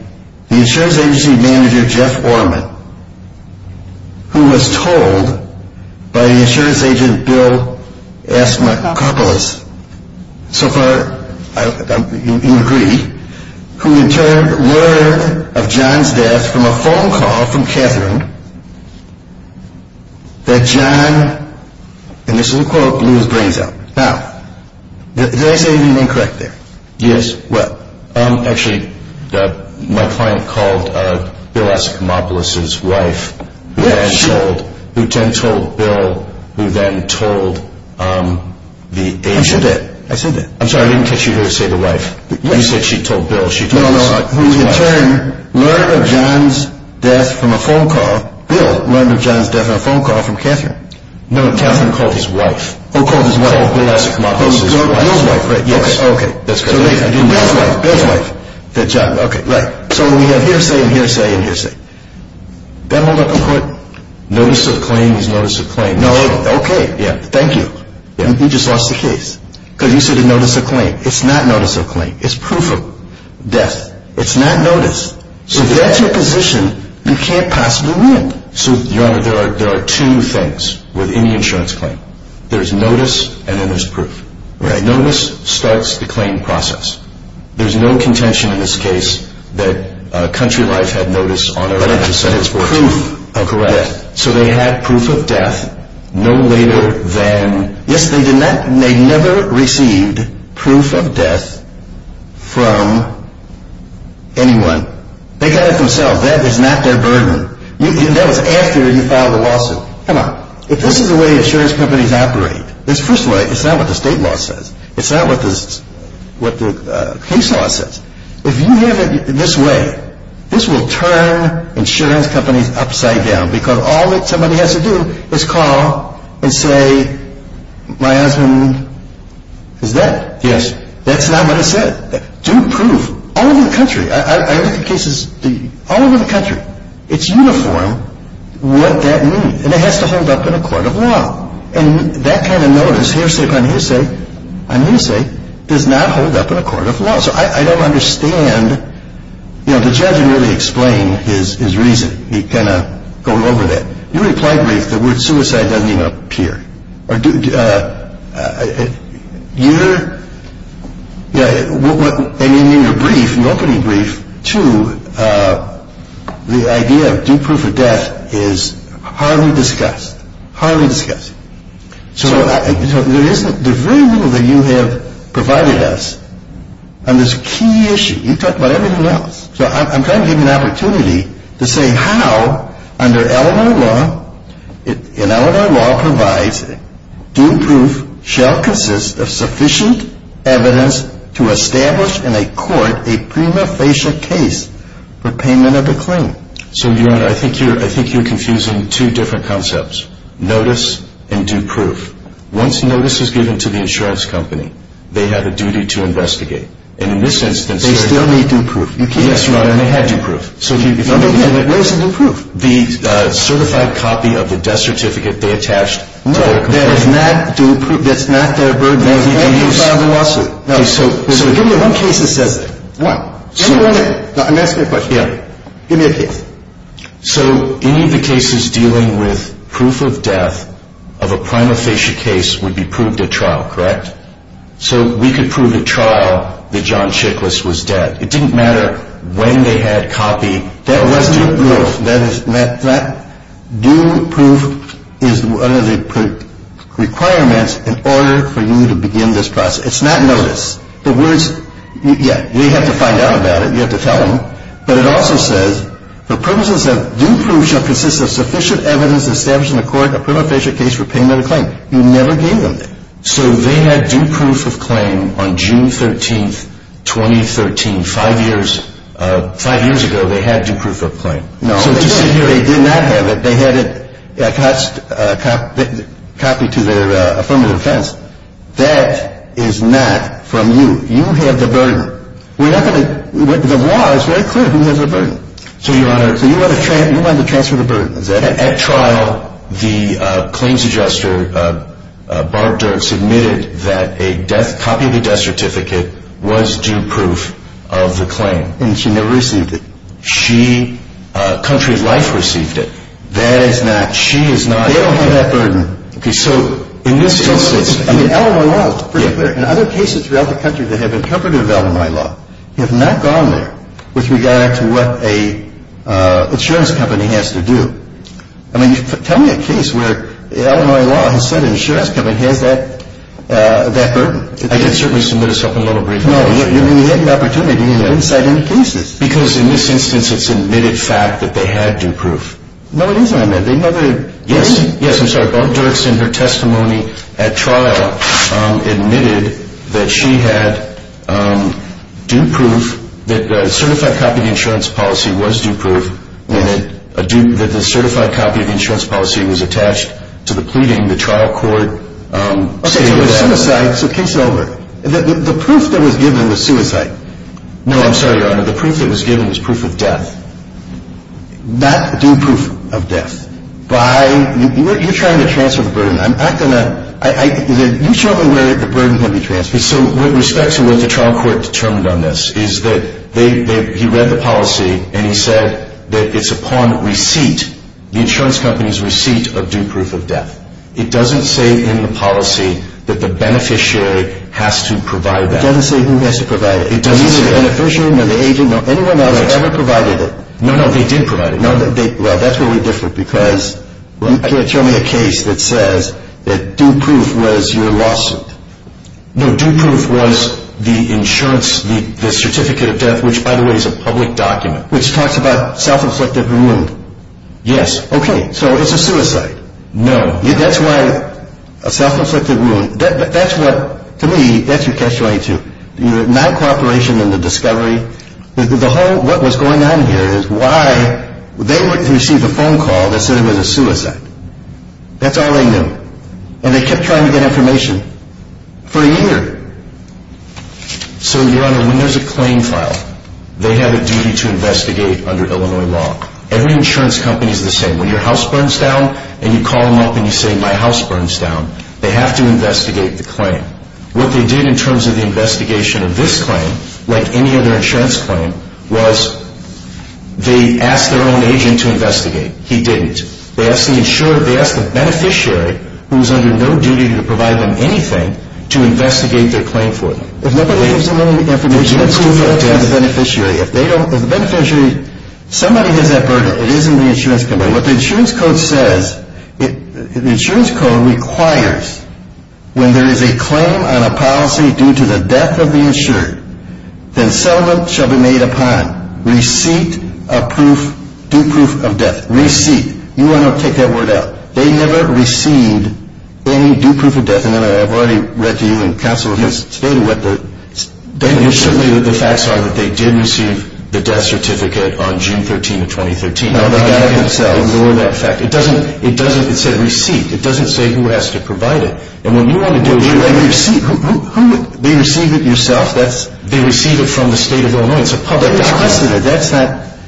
the insurance agency manager, Jeff Orman, who was told by the insurance agent, Bill S. McCarpolis, so far you agree, who returned word of John's death from a phone call from Katherine that John, and this is a quote, blew his brains out. Now, did I say anything incorrect there? Yes. Well, actually, my client called Bill S. McCarpolis' wife, who then told Bill, who then told the agent. I did. I said that. I'm sorry. I didn't get you to say the wife. You said she told Bill. No, no, no. Who returned word of John's death from a phone call, Bill, learned of John's death on a phone call from Katherine. No, Katherine called his wife. Bill's wife. Bill's wife, correct. Yes. Okay. That's correct. Bill's wife. Good job. Okay. Right. So when we have hearsay and hearsay and hearsay. Then hold up and quit. Notice of claim is notice of claim. Okay. Thank you. You just lost the case. Because you said it's notice of claim. It's not notice of claim. It's proof of claim. Death. It's not notice. So if that's your position, you can't possibly win. So, you know, there are two things within the insurance claim. There's notice and then there's proof. Okay. Notice starts the claim process. There's no contention in this case that Country Life had notice on it. I just said it's proof of correct. So they had proof of death no later than yesterday. They never received proof of death from anyone. They got it themselves. That was not their burden. That was after they filed the lawsuit. Come on. If this is the way insurance companies operate, this first way, it's not what the state law says. It's not what the case law says. If you have it this way, this will turn insurance companies upside down. Because all that somebody has to do is call and say, my husband is dead. That's not what it says. Do proof. All over the country. I read the cases. All over the country. It's uniform what that means. And it has to end up in a court of law. And that kind of notice, here's safe on his sake, on his sake, does not end up in a court of law. So I don't understand. You know, the judge really explained his reason. He kind of goes over that. You're exaggerating. The word suicide doesn't even appear. And in your brief, your opening brief, too, the idea of do proof or death is hardly discussed. Hardly discussed. So there's very little that you have provided us on this key issue. You've talked about everything else. So I'm trying to give you an opportunity to say how, under Illinois law, and Illinois law provides, do proof shall consist of sufficient evidence to establish in a court a prima facie case for payment of the claim. So, Your Honor, I think you're confusing two different concepts. Notice and do proof. Once notice is given to the insurance company, they have a duty to investigate. And in this instance, they still need do proof. Yes, Your Honor. They have do proof. No, no, no. What is do proof? The certified copy of the death certificate they attached. No. That is not do proof. That's not their burden. No, no, no. They can file a lawsuit. So give me one case that says what? I'm asking a question. Yeah. Give me a case. So any of the cases dealing with proof of death of a prima facie case would be proved at trial, correct? So we could prove at trial that John Chiklis was dead. It didn't matter when they had copy. That wasn't proof. Do proof is one of the requirements in order for you to begin this process. It's not notice. The words, yeah, you have to find out about it. You have to tell them. But it also says, do proof shall consist of sufficient evidence established in a court a prima facie case for payment of the claim. You never gave them it. So they had do proof of claim on June 13, 2013. Five years ago they had do proof of claim. No. They did not have it. They had a copy to their affirmative defense. That is not from you. You had the burden. The law is very clear who has the burden. So you want to transfer the burden. At trial, the claims adjuster, Barb Dirks, admitted that a copy of the death certificate was do proof of the claim. And she never received it. She, country life, received it. That is not. She is not. They don't have that burden. Okay, so in this instance. Out of my law, it's pretty clear. And other cases throughout the country that have been covered in the out of my law have not gone there with regard to what an insurance company has to do. I mean, tell me a case where out of my law, an insurance company has that burden. I can certainly submit something a little briefer. No. You had the opportunity to do that. Inside any cases. Because in this instance it's admitted fact that they had do proof. They never. Yes. Yes, I'm sorry. Barb Dirks, in her testimony at trial, admitted that she had do proof that the certified copy of the insurance policy was do proof. And that the certified copy of the insurance policy was attached to the pleading the trial court. Okay, so the proof that was given was suicide. No, I'm sorry, Your Honor. The proof that was given was proof of death. Not do proof of death. You're trying to transfer the burden. I'm not going to. You show them where the burden can be transferred. So with respect to when the trial court determined on this, is that he read the policy and he said that it's upon receipt, the insurance company's receipt of do proof of death. It doesn't say in the policy that the beneficiary has to provide that. It doesn't say who has to provide it. It doesn't say. The beneficiary, the agent, anyone on it ever provided it. No, no, they did provide it. Well, that's where we're different because you had shown me a case that says that do proof was your lawsuit. No, do proof was the insurance, the certificate of death, which, by the way, is a public document. Which talks about self-inflicted wound. Yes. Okay, so it's a suicide. No. That's why a self-inflicted wound. That's what, for me, that's what that's going to. My cooperation in the discovery. What was going on here is why they received a phone call that said it was a suicide. That's all they knew. And they kept trying to get information for a year. So, Your Honor, when there's a claim filed, they have a duty to investigate under Illinois law. Every insurance company is the same. When your house burns down and you call them up and you say my house burns down, they have to investigate the claim. What they did in terms of the investigation of this claim, like any other insurance claim, was they asked their own agent to investigate. He didn't. They asked the beneficiary, who is under no duty to provide them anything, to investigate their claim for them. If nobody has any information, they have to go to the beneficiary. If they don't, if the beneficiary, somebody's in that burden. It isn't the insurance company. What the insurance code says, the insurance code requires, when there is a claim on a policy due to the death of the insured, then settlement shall be made upon receipt of proof, due proof of death. Receipt. Your Honor, take that word out. They never received any due proof of death. I know I've already read to you and counsel has stated with it. They did receive the death certificate on June 13, 2013. It doesn't say receipt. It doesn't say who has to provide it. And when you want to do it, you write a receipt. Who would be receiving it yourself? They receive it from the state of Illinois. It's a public document.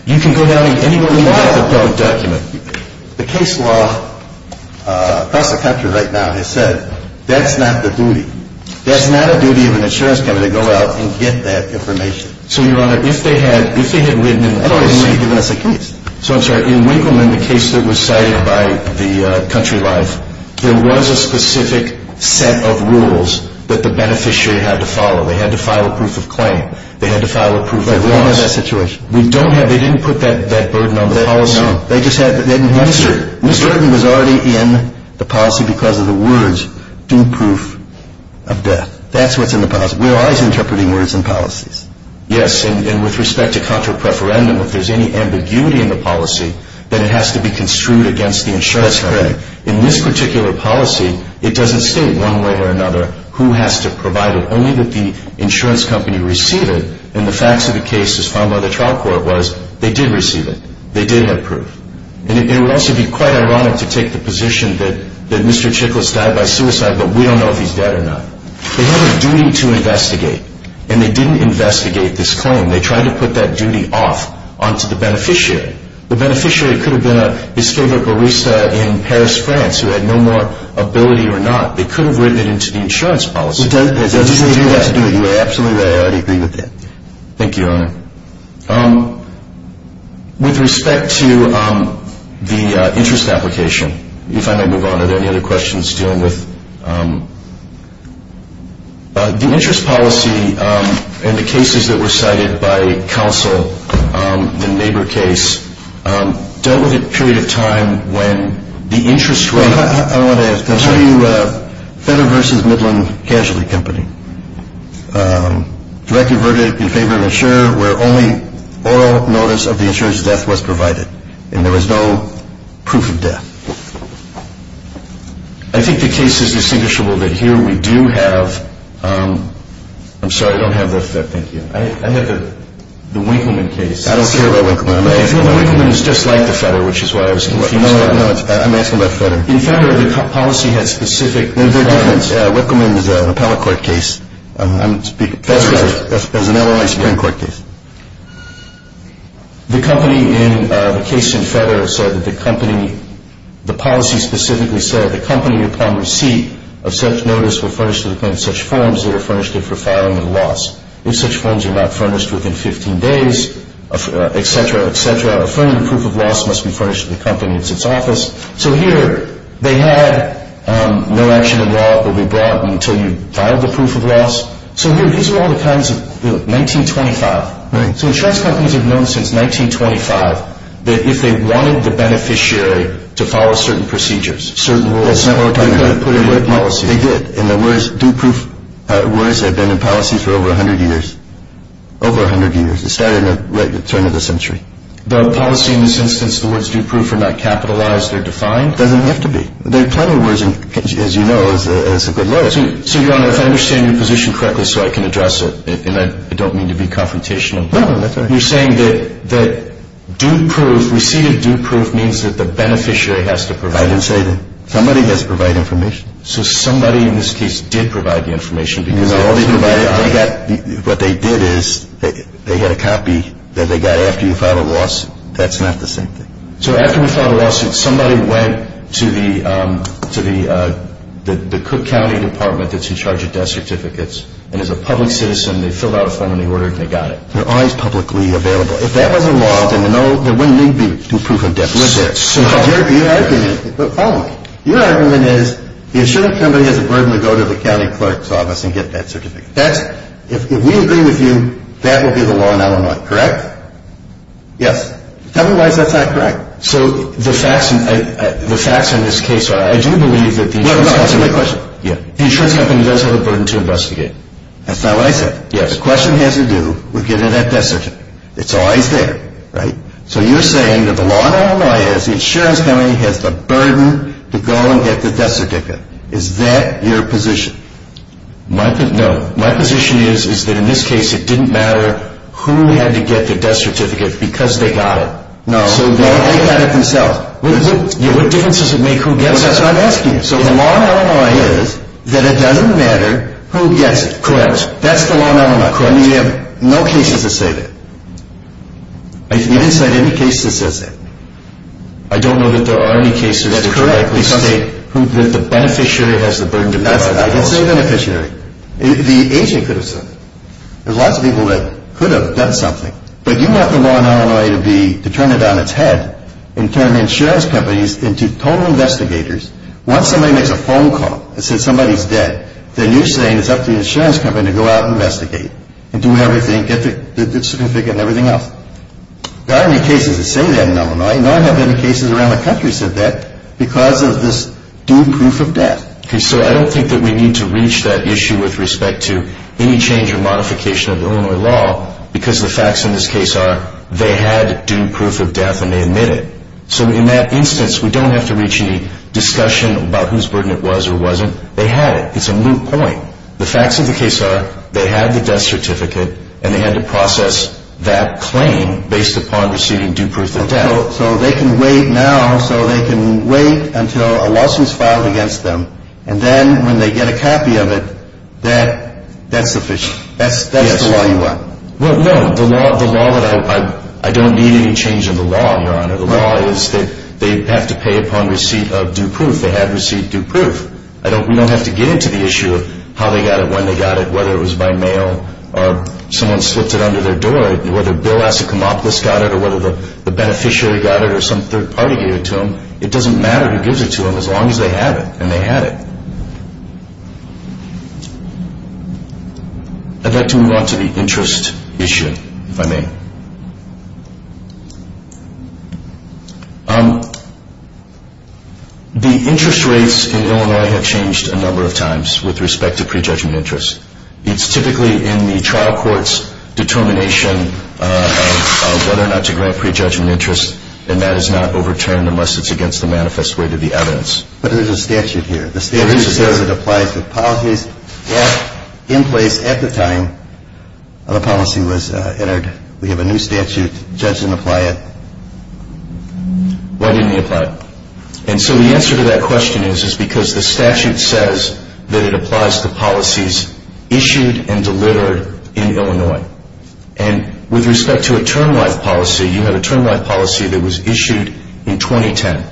You can go down to anywhere in the world and file a document. The case law, proper country right now, has said that's not the duty. That's not a duty of an insurance company to go out and get that information. So, Your Honor, if they had written an MOU to give us a case. So, I'm sorry. In Wiggum, in the case that was cited by the country right, there was a specific set of rules that the beneficiary had to follow. They had to file a proof of claim. They had to file a proof of death. We don't have that situation. We don't have it. They didn't put that burden on the policy. They just had that they didn't have it. No, sir. This burden was already in the policy because of the words, due proof of death. That's what's in the policy. We're always interpreting words in policies. Yes, and with respect to country preferendum, if there's any ambiguity in the policy, then it has to be construed against the insurance company. That's correct. In this particular policy, it doesn't say one way or another who has to provide it. Only that the insurance company received it. And the facts of the case as found by the trial court was they did receive it. They did have proof. And it would also be quite ironic to take the position that Mr. Chickles died by suicide, but we don't know if he's dead or not. They have a duty to investigate. And they didn't investigate this claim. They tried to put that duty off onto the beneficiary. The beneficiary could have been a discovered barista in Paris, France, who had no more ability or not. They could have written it into the insurance policy. They didn't do that. You're absolutely right. I agree with that. Thank you, Your Honor. With respect to the interest application, if I may move on, are there any other questions dealing with the interest policy? The cases that were cited by counsel, the neighbor case, dealt with a period of time when the interest was I want to tell you Federal versus Midland Casualty Company. They converted it in favor of the insurer, where only oral notice of the insurer's death was provided, and there was no proof of death. I think the case is distinguishable that here we do have I'm sorry, I don't have this. Thank you. I have the Wigman case. I don't care about Wigman. Wigman is just like the Federer, which is why I was confused. I'm asking about Federer. In Federer, the policy had specific Wigman is an appellate court case. Federer has an oral notice hearing court case. The company in the case in Federer said that the company the policy specifically said the company upon receipt of such notice were furnished with such forms they were furnished it for filing of loss. If such forms are not furnished within 15 days, etc., etc., a firm proof of loss must be furnished to the company in its office. So here they had no action in law that would be brought until you filed the proof of loss. So here, these are all the times of 1925. So insurance companies have known since 1925 that if they wanted the beneficiary to follow certain procedures certain rules, they had to put in good policy. They did. And the words, do proof, words have been in policy for over 100 years. Over 100 years. It started in the late turn of the century. The policy in this instance, the words do proof are not capitalized. They're defined. They don't have to be. There are a ton of words, as you know, that have been loaded. So, Your Honor, if I understand your position correctly so I can address it, and I don't mean to be confrontational. No, no, that's all right. You're saying that do proof, we see that do proof means that the beneficiary has to provide it. I didn't say that. Somebody has to provide information. So somebody in this case did provide the information. No. What they did is they had a copy that they got after you filed a loss. That's not the same thing. So after we filed a lawsuit, somebody went to the Cook County Department that's in charge of death certificates, and as a public citizen, they filled out a form, they ordered, and they got it. They're always publicly available. If that wasn't law, then there wouldn't need to be proof of death certificates. Your argument is the insurance company has a burden to go to the county clerk's office and get that certificate. If we agree with you, that would be the law in Illinois, correct? Yes. Otherwise, that's not correct. So the facts in this case are, as you believe that the insurance company does have a burden to investigate. That's not what I said. Yes, the question has to do with getting that death certificate. That's all I said, right? So you're saying that the law in Illinois is the insurance company has the burden to go get the death certificate. Is that your position? No. My position is, is that in this case, it didn't matter who had to get the death certificate because they got it. No. So they'll take care of it themselves. What difference does it make who gets it? That's what I'm asking. So the law in Illinois is that it doesn't matter who gets it. Correct. That's the law in Illinois, correct? We have no cases to say that. I didn't say any cases does that. I don't know that there are any cases that correctly say that the beneficiary has the burden to go get it. It's the Asian person. There's lots of people that could have done something. But you want the law in Illinois to turn it on its head and turn insurance companies into total investigators. Once somebody makes a phone call that says somebody's dead, then you're saying it's up to the insurance company to go out and investigate and do everything else. There aren't any cases that say that in Illinois. None have any cases around the country that say that because of this due proof of death. Okay. So I don't think that we need to reach that issue with respect to any change or modification of Illinois law because the facts in this case are they had due proof of death and they admitted it. So in that instance, we don't have to reach any discussion about whose burden it was or wasn't. They had it. It's a moot point. The facts of the case are they had the death certificate, and they had to process that claim based upon receiving due proof of death. So they can wait now, so they can wait until a lawsuit is filed against them, and then when they get a copy of it, that's sufficient. That's the law you want. Well, no. The law that I don't need any change in the law, Your Honor. The law is that they have to pay upon receipt of due proof. They had received due proof. We don't have to get into the issue of how they got it, when they got it, whether it was by mail or someone slipped it under their door, or whether Bill Asikamopoulos got it or whether the beneficiary got it or some third party gave it to them. It doesn't matter who gives it to them as long as they have it, and they had it. I'd like to move on to the interest issue, if I may. The interest rates in Illinois have changed a number of times with respect to prejudgment interest. It's typically in the trial court's determination of whether or not to grant prejudgment interest, and that is not overturned unless it's against the manifest way to the evidence. But there's a statute here. The statute says it applies to policies left in place at the time the policy was entered. We have a new statute that doesn't apply it. Why didn't they apply it? And so the answer to that question is because the statute says that it applies to policies issued and delivered in Illinois. And with respect to a termline policy, you have a termline policy that was issued in 2010,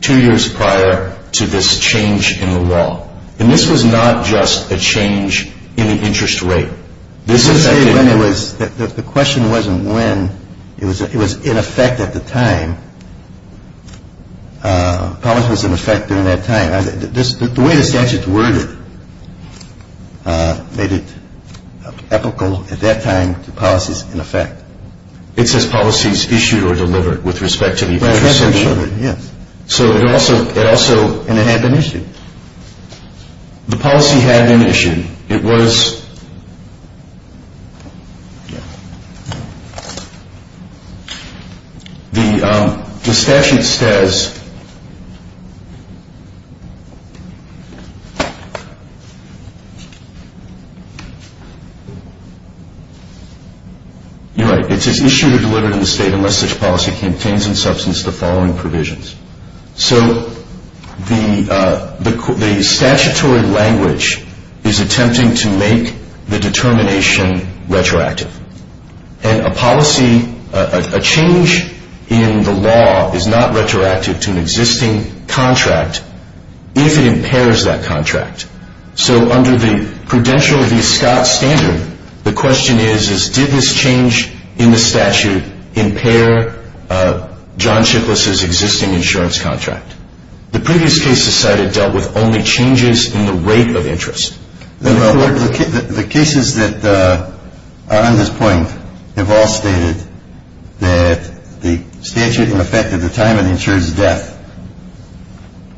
two years prior to this change in the law. And this was not just a change in the interest rate. The question wasn't when. It was in effect at the time. Policy was in effect during that time. The way the statute's worded made it ethical at that time for policies in effect. It says policies issued or delivered with respect to the interest rate. Yes. So it also had an issue. The policy had an issue. It was the statute says, you're right. It's issued or delivered in the state unless this policy contains in substance the following provisions. So the statutory language is attempting to make the determination retroactive. And a policy, a change in the law is not retroactive to an existing contract if it impairs that contract. So under the prudential Scott standard, the question is, did this change in the statute impair John Schiffler's existing insurance contract? The previous case decided it dealt with only changes in the rate of interest. The cases that are on this point have all stated that the statute in effect at the time of the insurer's death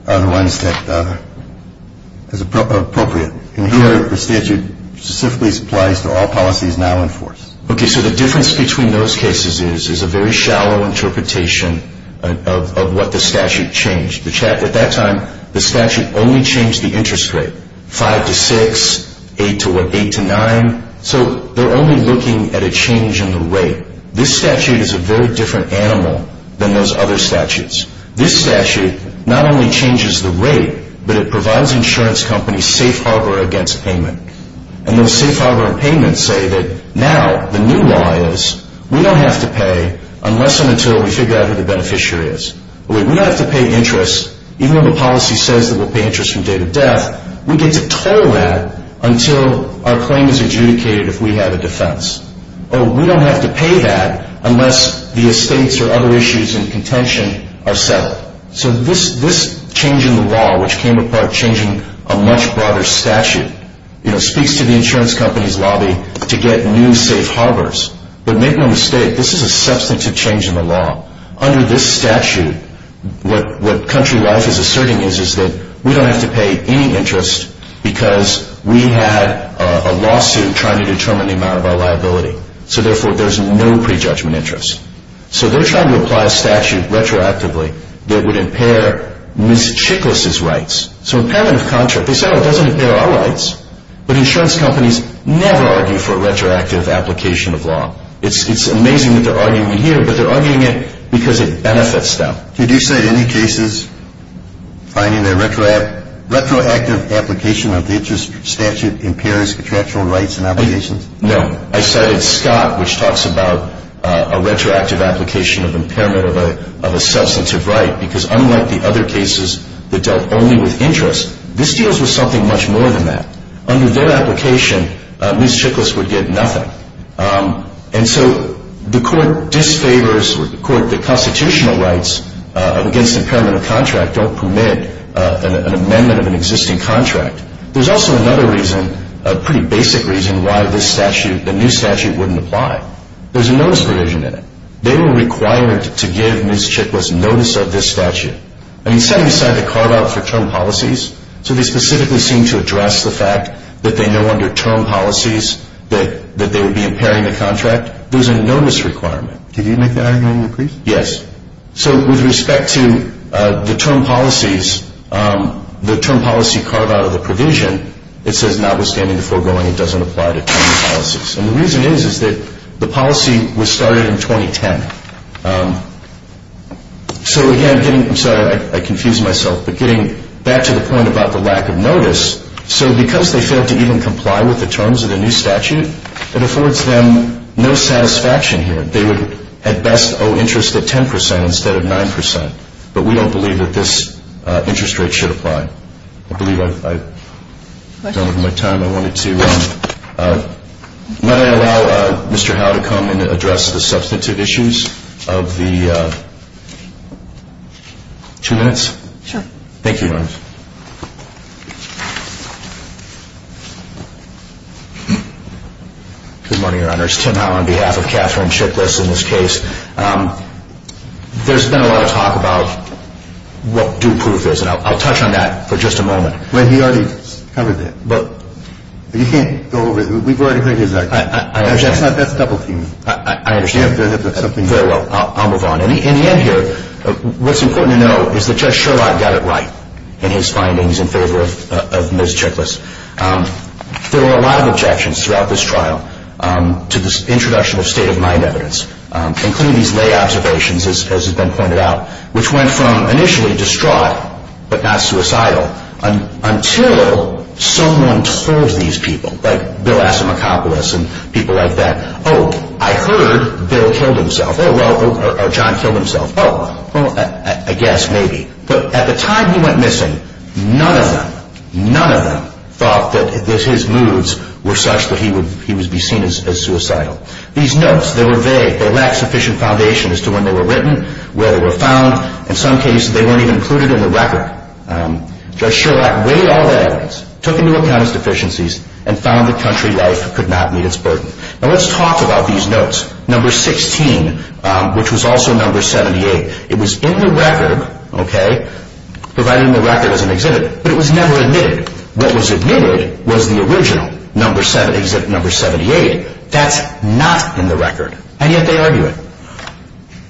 are the ones that are appropriate. The statute simply applies to all policies now enforced. Okay, so the difference between those cases is a very shallow interpretation of what the statute changed. At that time, the statute only changed the interest rate, 5 to 6, 8 to what, 8 to 9. So they're only looking at a change in the rate. This statute is a very different animal than those other statutes. This statute not only changes the rate, but it provides insurance companies safe harbor against payment. And those safe harbor payments say that now the new law is we don't have to pay unless and until we figure out who the beneficiary is. We don't have to pay interest even when the policy says that we'll pay interest from date of death. We get to toll that until our claim is adjudicated if we have a defense. Or we don't have to pay that unless the estates or other issues in contention are settled. So this change in the law, which came apart changing a much broader statute, speaks to the insurance company's lobby to get new safe harbors. But make no mistake, this is a substantive change in the law. Under this statute, what country law is asserting is that we don't have to pay any interest because we have a lawsuit trying to determine the amount of our liability. So therefore, there's no prejudgment interest. So they're trying to apply a statute retroactively. It would impair Ms. Chiklis' rights. So impairment of contract, they say, oh, it doesn't impair our rights. But insurance companies never argue for a retroactive application of law. It's amazing that they're arguing here, but they're arguing it because it benefits them. Did you cite any cases finding a retroactive application of interest statute impairs contractual rights and obligations? No. I cited Scott, which talks about a retroactive application of impairment of a substantive right because unlike the other cases that dealt only with interest, this deals with something much more than that. Under their application, Ms. Chiklis would get nothing. And so the court disfavors the constitutional rights against impairment of contract, don't permit an amendment of an existing contract. There's also another reason, a pretty basic reason, why this statute, the new statute, wouldn't apply. There's a notice provision in it. They were required to give Ms. Chiklis notice of this statute. And you set aside the carve-out for term policies, so they specifically seem to address the fact that they know under term policies that they would be impairing the contract. There's a notice requirement. Did you make that argument, please? Yes. So with respect to the term policies, the term policy carve-out of the provision, it says notwithstanding the foregoing, it doesn't apply to term policies. And the reason is that the policy was started in 2010. So, again, I'm sorry, I confused myself. But getting back to the point about the lack of notice, so because they failed to even comply with the terms of the new statute, it affords them no satisfaction here. They would, at best, owe interest at 10% instead of 9%. But we don't believe that this interest rate should apply. I believe I've run out of my time. I wanted to allow Mr. Howe to come and address the substantive issues of the two minutes. Sure. Thank you. Good morning, Your Honors. Tim Howe on behalf of Katherine Chiklis in this case. There's been a lot of talk about what group proof is. And I'll touch on that for just a moment. But you can't go over it. We've already heard his argument. That's a double theme. I understand. Very well. I'll move on. In the end here, what's important to know is that Judge Sherlock got it right in his findings in favor of Ms. Chiklis. There were a lot of objections throughout this trial to this introduction of state-of-mind evidence, including these lay observations, as has been pointed out, which went from initially distraught but not suicidal until someone told these people, like Bill Asimakopoulos and people like that, oh, I heard Bill killed himself. Oh, well, John killed himself. Oh, well, I guess, maybe. But at the time he went missing, none of them, none of them, thought that his moves were such that he would be seen as suicidal. These notes, they were vague. They lacked sufficient foundation as to when they were written, where they were found. In some cases, they weren't even included in the record. Judge Sherlock weighed all evidence, took into account its deficiencies, and found a country that could not meet its burden. Now let's talk about these notes. Number 16, which was also number 78, it was in the record, okay, provided in the record as an exhibit, but it was never admitted. What was admitted was the original number 78. That's not in the record, and yet they argue it.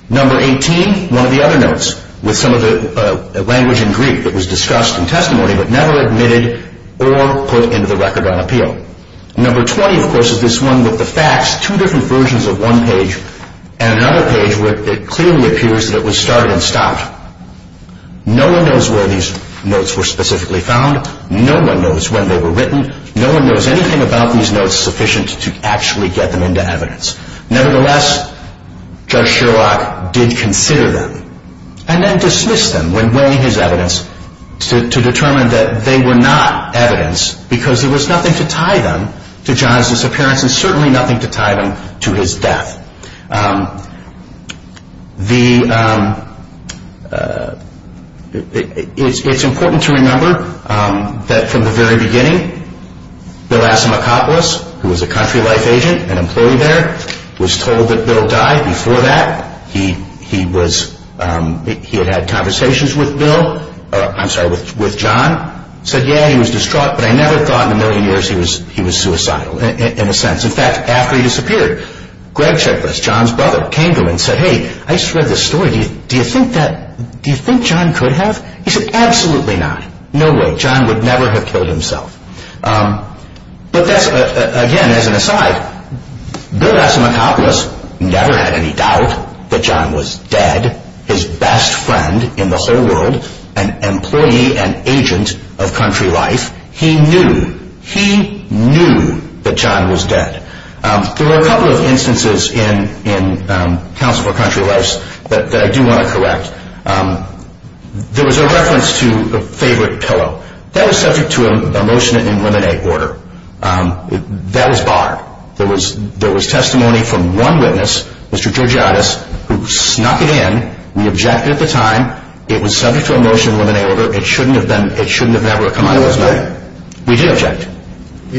Number 18, one of the other notes, with some of the language in Greek that was discussed in testimony, but never admitted or put into the record on appeal. Number 20, of course, is this one with the facts, two different versions of one page and another page where it clearly appears that it was started and stopped. No one knows where these notes were specifically found. No one knows when they were written. No one knows anything about these notes sufficient to actually get them into evidence. Nevertheless, Judge Sherlock did consider them and then dismissed them when weighing his evidence to determine that they were not evidence because there was nothing to tie them to Jonathan's appearance and certainly nothing to tie them to his death. It's important to remember that from the very beginning, Bill Asimakopoulos, who was a country life agent and employee there, was told that Bill died before that. He had had conversations with John. He said, yeah, he was distraught, but I never thought in a million years he was suicidal, in a sense. In fact, after he disappeared, Greg Checkless, John's brother, came to him and said, hey, I just read the story. Do you think John could have? He said, absolutely not. No way. John would never have killed himself. But that's, again, as an aside, Bill Asimakopoulos never had any doubt that John was dead, his best friend in the whole world, an employee and agent of country life. He knew. He knew that John was dead. There were a couple of instances in Council for Country Life that I do want to correct. There was a reference to a favorite pillow. That was subject to a motion in Women Aid order. That was barred. There was testimony from one witness, Mr. Georgiotis, who snuck it in. We objected at the time. It was subject to a motion in Women Aid order. It shouldn't have never come out. We do object. We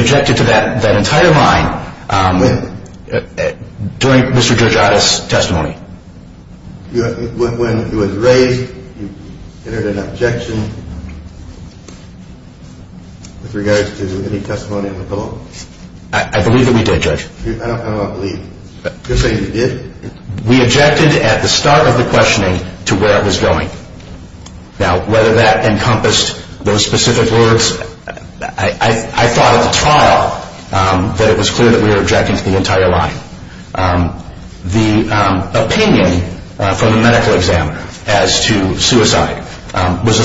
objected to that entire line during Mr. Georgiotis' testimony. I believe that we did, Judge. I don't believe. You're saying you did? We objected at the start of the questioning to where I was going. Now, whether that encompassed those specific words, I thought at the trial that it was clear that we were objecting to the entire line. The opinion from the medical examiner as to suicide was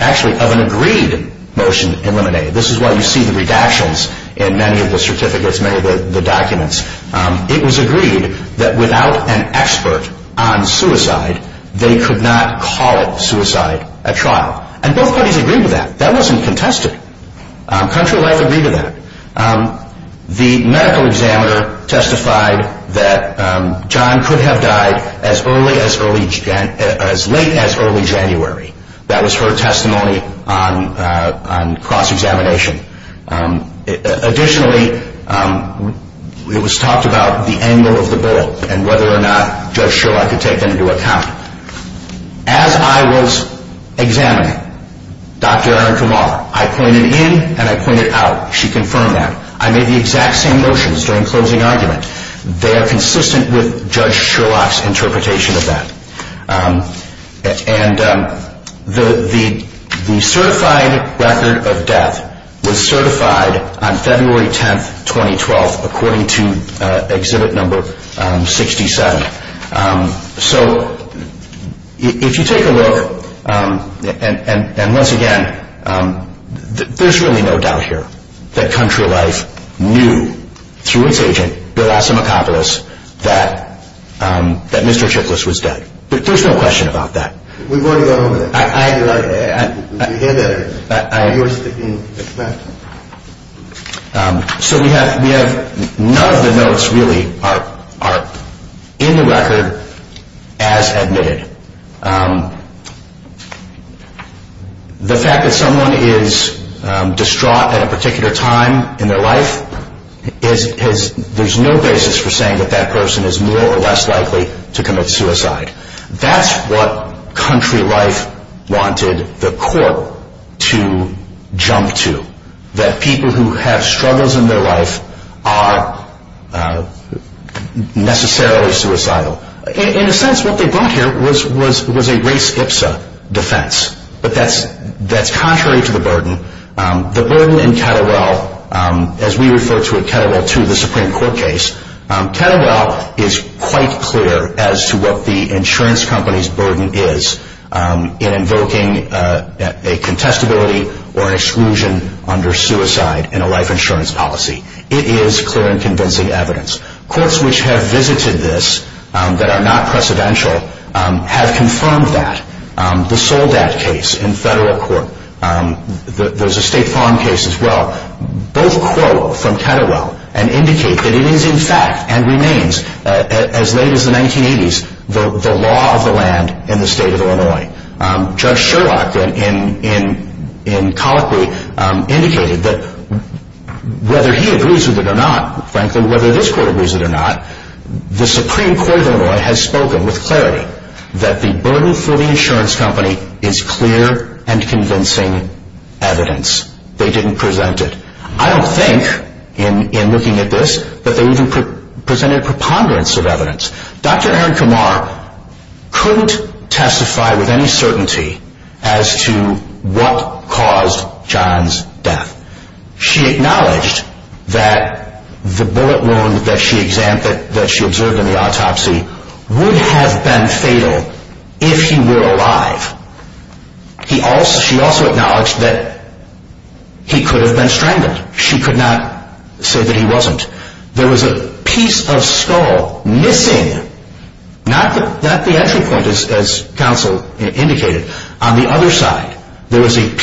actually of an agreed motion in Women Aid. This is why you see the redactions in many of the certificates, many of the documents. It was agreed that without an expert on suicide, they could not call suicide a trial. And both parties agreed to that. That wasn't contested. Country Life agreed to that. The medical examiner testified that John could have died as late as early January. That was her testimony on cross-examination. Additionally, it was talked about the angle of the bullet and whether or not Judge Sherlock could take that into account. As I was examining Dr. Erin Kamar, I pointed in and I pointed out. She confirmed that. I made the exact same motions during closing argument. They are consistent with Judge Sherlock's interpretation of that. The certified record of death was certified on February 10, 2012, according to Exhibit No. 67. So, if you take a look over, and once again, there is really no doubt here that Country Life knew through its agent, Bill Osimakopoulos, that Mr. Schicklis was dead. There is no question about that. We want to go over it. I'd like to. We can do that again. I agree with you. It's fine. So, we have none of the notes really are in the record as admitted. The fact that someone is distraught at a particular time in their life, there is no basis for saying that that person is more or less likely to commit suicide. That's what Country Life wanted the court to jump to. That people who have struggles in their life are necessarily suicidal. In a sense, what they brought here was a race-IPSA defense, but that's contrary to the burden. The burden in Kettlewell, as we refer to it, Kettlewell II, the Supreme Court case, Kettlewell is quite clear as to what the insurance company's burden is in invoking a contestability or an exclusion under suicide in a life insurance policy. It is clear and convincing evidence. Courts which have visited this that are not precedential have confirmed that. The sole death case in federal court. There's a state farm case as well. Both quote from Kettlewell and indicate that it is in fact and remains, as late as the 1980s, the law of the land in the state of Illinois. Judge Sherlock, in colloquy, indicated that whether he agrees with it or not, frankly, whether this court agrees with it or not, the Supreme Court of Illinois has spoken with clarity that the burden for the insurance company is clear and convincing evidence. They didn't present it. I don't think, in looking at this, that they even presented preponderance of evidence. Dr. Erin Kamar couldn't testify with any certainty as to what caused John's death. She acknowledged that the bullet wound that she observed in the autopsy would have been fatal if he were alive. She also acknowledged that he could have been strangled. She could not say that he wasn't. There was a piece of skull missing, not at the entry point as counsel indicated, on the other side. There was an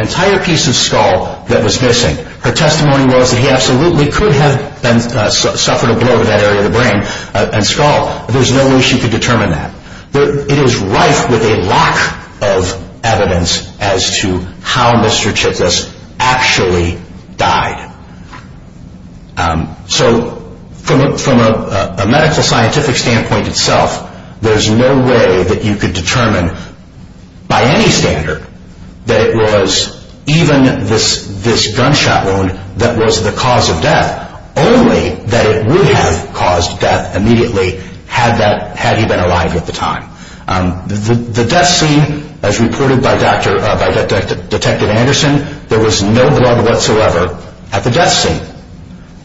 entire piece of skull that was missing. Her testimony was that he absolutely could have suffered a blow to that area of the brain and skull. There's no way she could determine that. It is rife with a lack of evidence as to how Mr. Chickas actually died. So from a medical scientific standpoint itself, there's no way that you could determine by any standard that it was even this gunshot wound that was the cause of death, only that it would have caused death immediately had he been alive at the time. The death scene, as reported by Detective Anderson, there was no blood whatsoever at the death scene.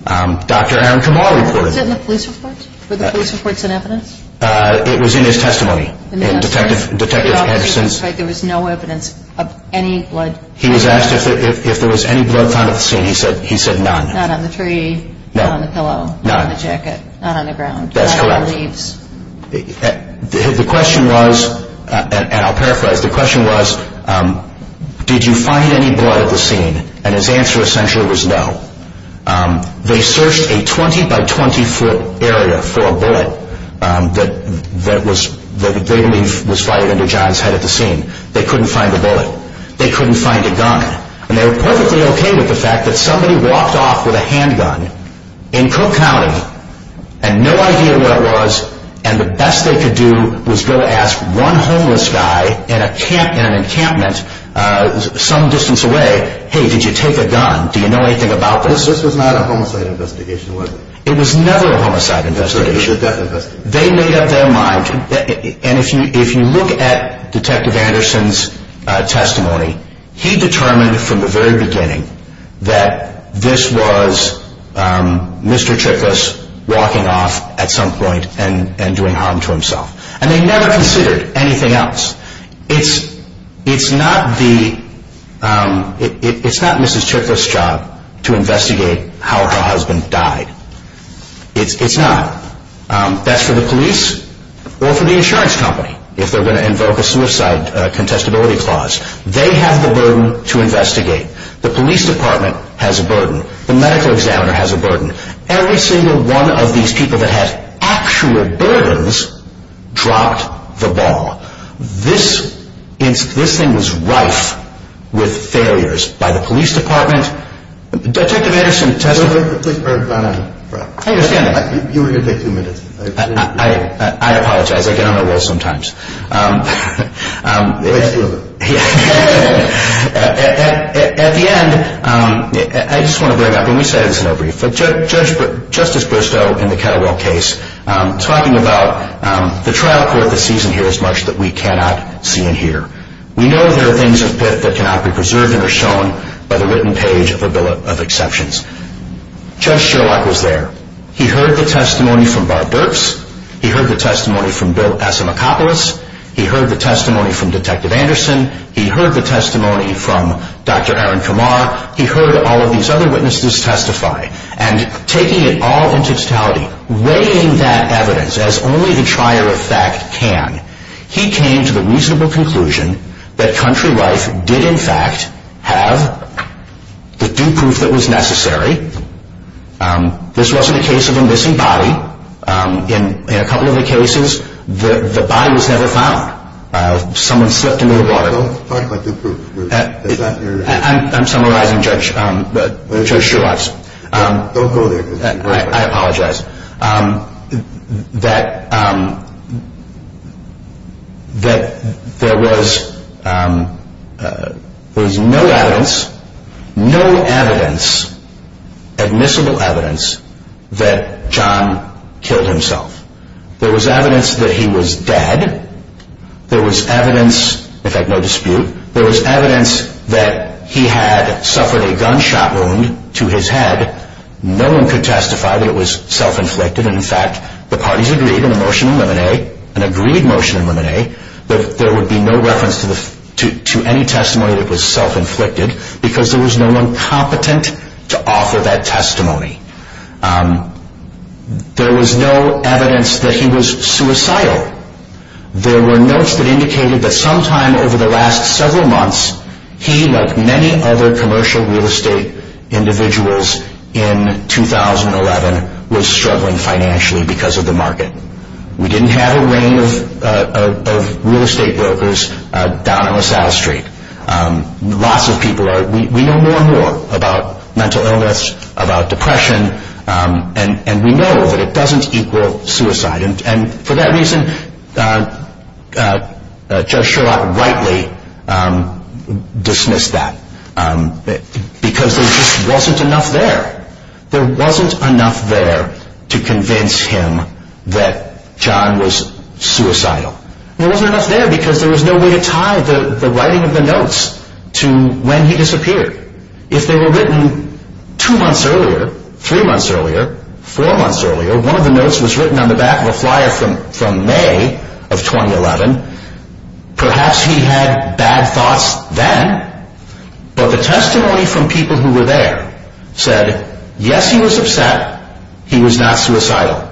Dr. Erin Kamar reported it. Was it in the police reports? Were the police reports an evidence? It was in his testimony. Detective Anderson said there was no evidence of any blood. He was asked if there was any blood on the scene. He said none. Not on the tree, not on the pillow, not on the jacket, not on the ground, not on the leaves. The question was, and I'll paraphrase, the question was, did you find any blood at the scene? And his answer essentially was no. They searched a 20 by 20 foot area for a bullet that was fired under John's head at the scene. They couldn't find a bullet. They couldn't find a gun. And they were perfectly okay with the fact that somebody walked off with a handgun in Cook County and no idea what it was. And the best they could do was go ask one homeless guy in an encampment some distance away, hey, did you take a gun? Do you know anything about this? This was not a homicide investigation, was it? It was never a homicide investigation. They made up their mind, and if you look at Detective Anderson's testimony, he determined from the very beginning that this was Mr. Chickas walking off at some point and doing harm to himself. And they never considered anything else. It's not Mrs. Chickas' job to investigate how her husband died. It's not. That's for the police or for the insurance company if they're going to invoke a suicide contestability clause. They have the burden to investigate. The police department has a burden. The medical examiner has a burden. Every single one of these people that has actual burdens dropped the ball. This thing was rife with failures by the police department. Detective Anderson, can I talk to you for a second? You were here for 15 minutes. I apologize. I get on a roll sometimes. At the end, I just want to bring up, and you said it was no brief, but Justice Bristow in the Cadillac case talking about the trial court that sees in here as much that we cannot see in here. We know there are things that cannot be preserved and are shown by the written page of the Bill of Exceptions. Judge Strzok was there. He heard the testimony from Bob Burks. He heard the testimony from Bill Passamakopoulos. He heard the testimony from Detective Anderson. He heard the testimony from Dr. Aaron Kamar. He heard all of these other witnesses testify. And taking it all into totality, weighing that evidence as only the trier of fact can, he came to the reasonable conclusion that country life did, in fact, have the due proof that was necessary. This wasn't a case of a missing body. In a couple of the cases, the body was never found. Someone slipped in the water. I'm summarizing, Judge Strzok. Don't go there. I apologize. That there was no evidence, no evidence, admissible evidence that John killed himself. There was evidence that he was dead. There was evidence, in fact, no dispute. There was evidence that he had suffered a gunshot wound to his head. No one could testify that it was self-inflicted. In fact, the parties agreed in a motion in Limine, an agreed motion in Limine, that there would be no reference to any testimony that was self-inflicted because there was no one competent to offer that testimony. There was no evidence that he was suicidal. There were notes that indicated that sometime over the last several months, he, like many other commercial real estate individuals in 2011, was struggling financially because of the market. We didn't have a rain of real estate brokers down on LaSalle Street. Lots of people are. We know more and more about mental illness, about depression, and we know that it doesn't equal suicide. And for that reason, Judge Sherlock rightly dismissed that because there just wasn't enough there. There wasn't enough there to convince him that John was suicidal. There wasn't enough there because there was no way to tie the writing of the notes to when he disappeared. If they were written two months earlier, three months earlier, four months earlier, or one of the notes was written on the back of a flyer from May of 2011, perhaps he had bad thoughts then, but the testimony from people who were there said, yes, he was upset, he was not suicidal.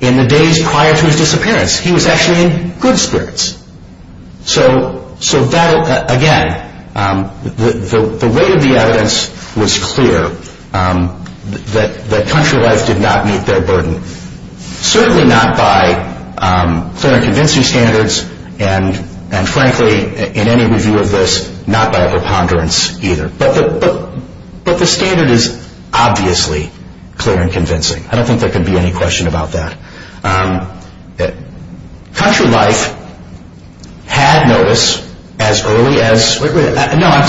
In the days prior to his disappearance, he was actually in good spirits. So, again, the weight of the evidence was clear that country life did not meet their burden. Certainly not by clear and convincing standards, and frankly, in any review of this, not by preponderance either. But the standard is obviously clear and convincing. I don't think there could be any question about that. Country life had notice as early as... Wait, wait, no, I'm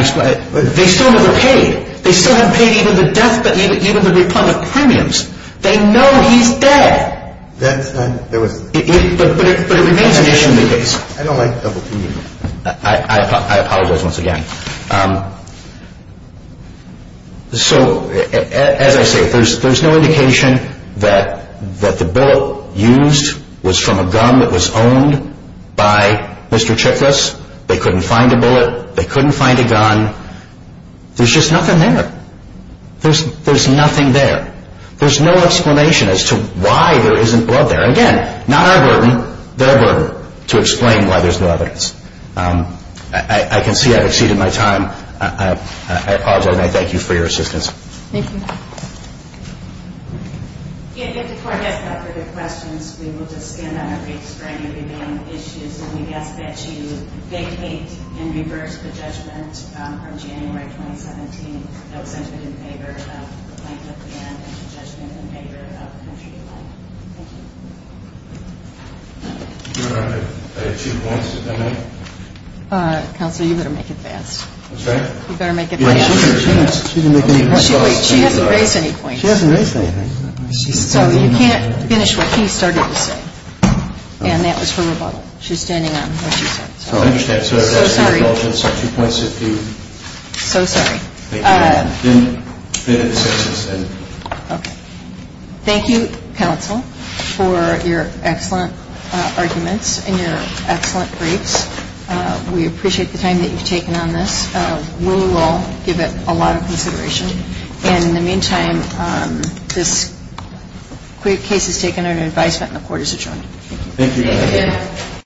just going to... They still would have paid. They still would have paid even the debt that you would have repaid, the premiums. They know he's dead. That's... But it remains a shame because... I don't like to talk to you. I apologize once again. So, as I say, there's no indication that the bullet used was from a gun that was owned by Mr. Chiklis. They couldn't find a bullet. They couldn't find a gun. There's just nothing there. There's nothing there. There's no explanation as to why there isn't blood there. Again, not our burden, their burden, to explain why there's no evidence. I can see I've exceeded my time. I apologize, and I thank you for your assistance. Thank you. If the court has no further questions, we will just stand on our feet for any remaining issues, and we ask that you vacate and reverse the judgment from January 2017. That brings it in favor of plaintiff and the judgment in favor of country life. Thank you. Do you want to make a few points at that point? Counsel, you better make it fast. I'm sorry? You better make it fast. She hasn't raised any points. She hasn't raised any points. You can't finish what she started to say, and that was her rebuttal. She's standing on her feet. I understand. I'm sorry. I'd like to make a few points if you... I'm so sorry. Thank you. Okay. Thank you for your excellent arguments and your excellent briefs. We appreciate the time that you've taken on this. We will give it a lot of consideration. In the meantime, this briefcase is taken under advice that the court has adjourned. Thank you.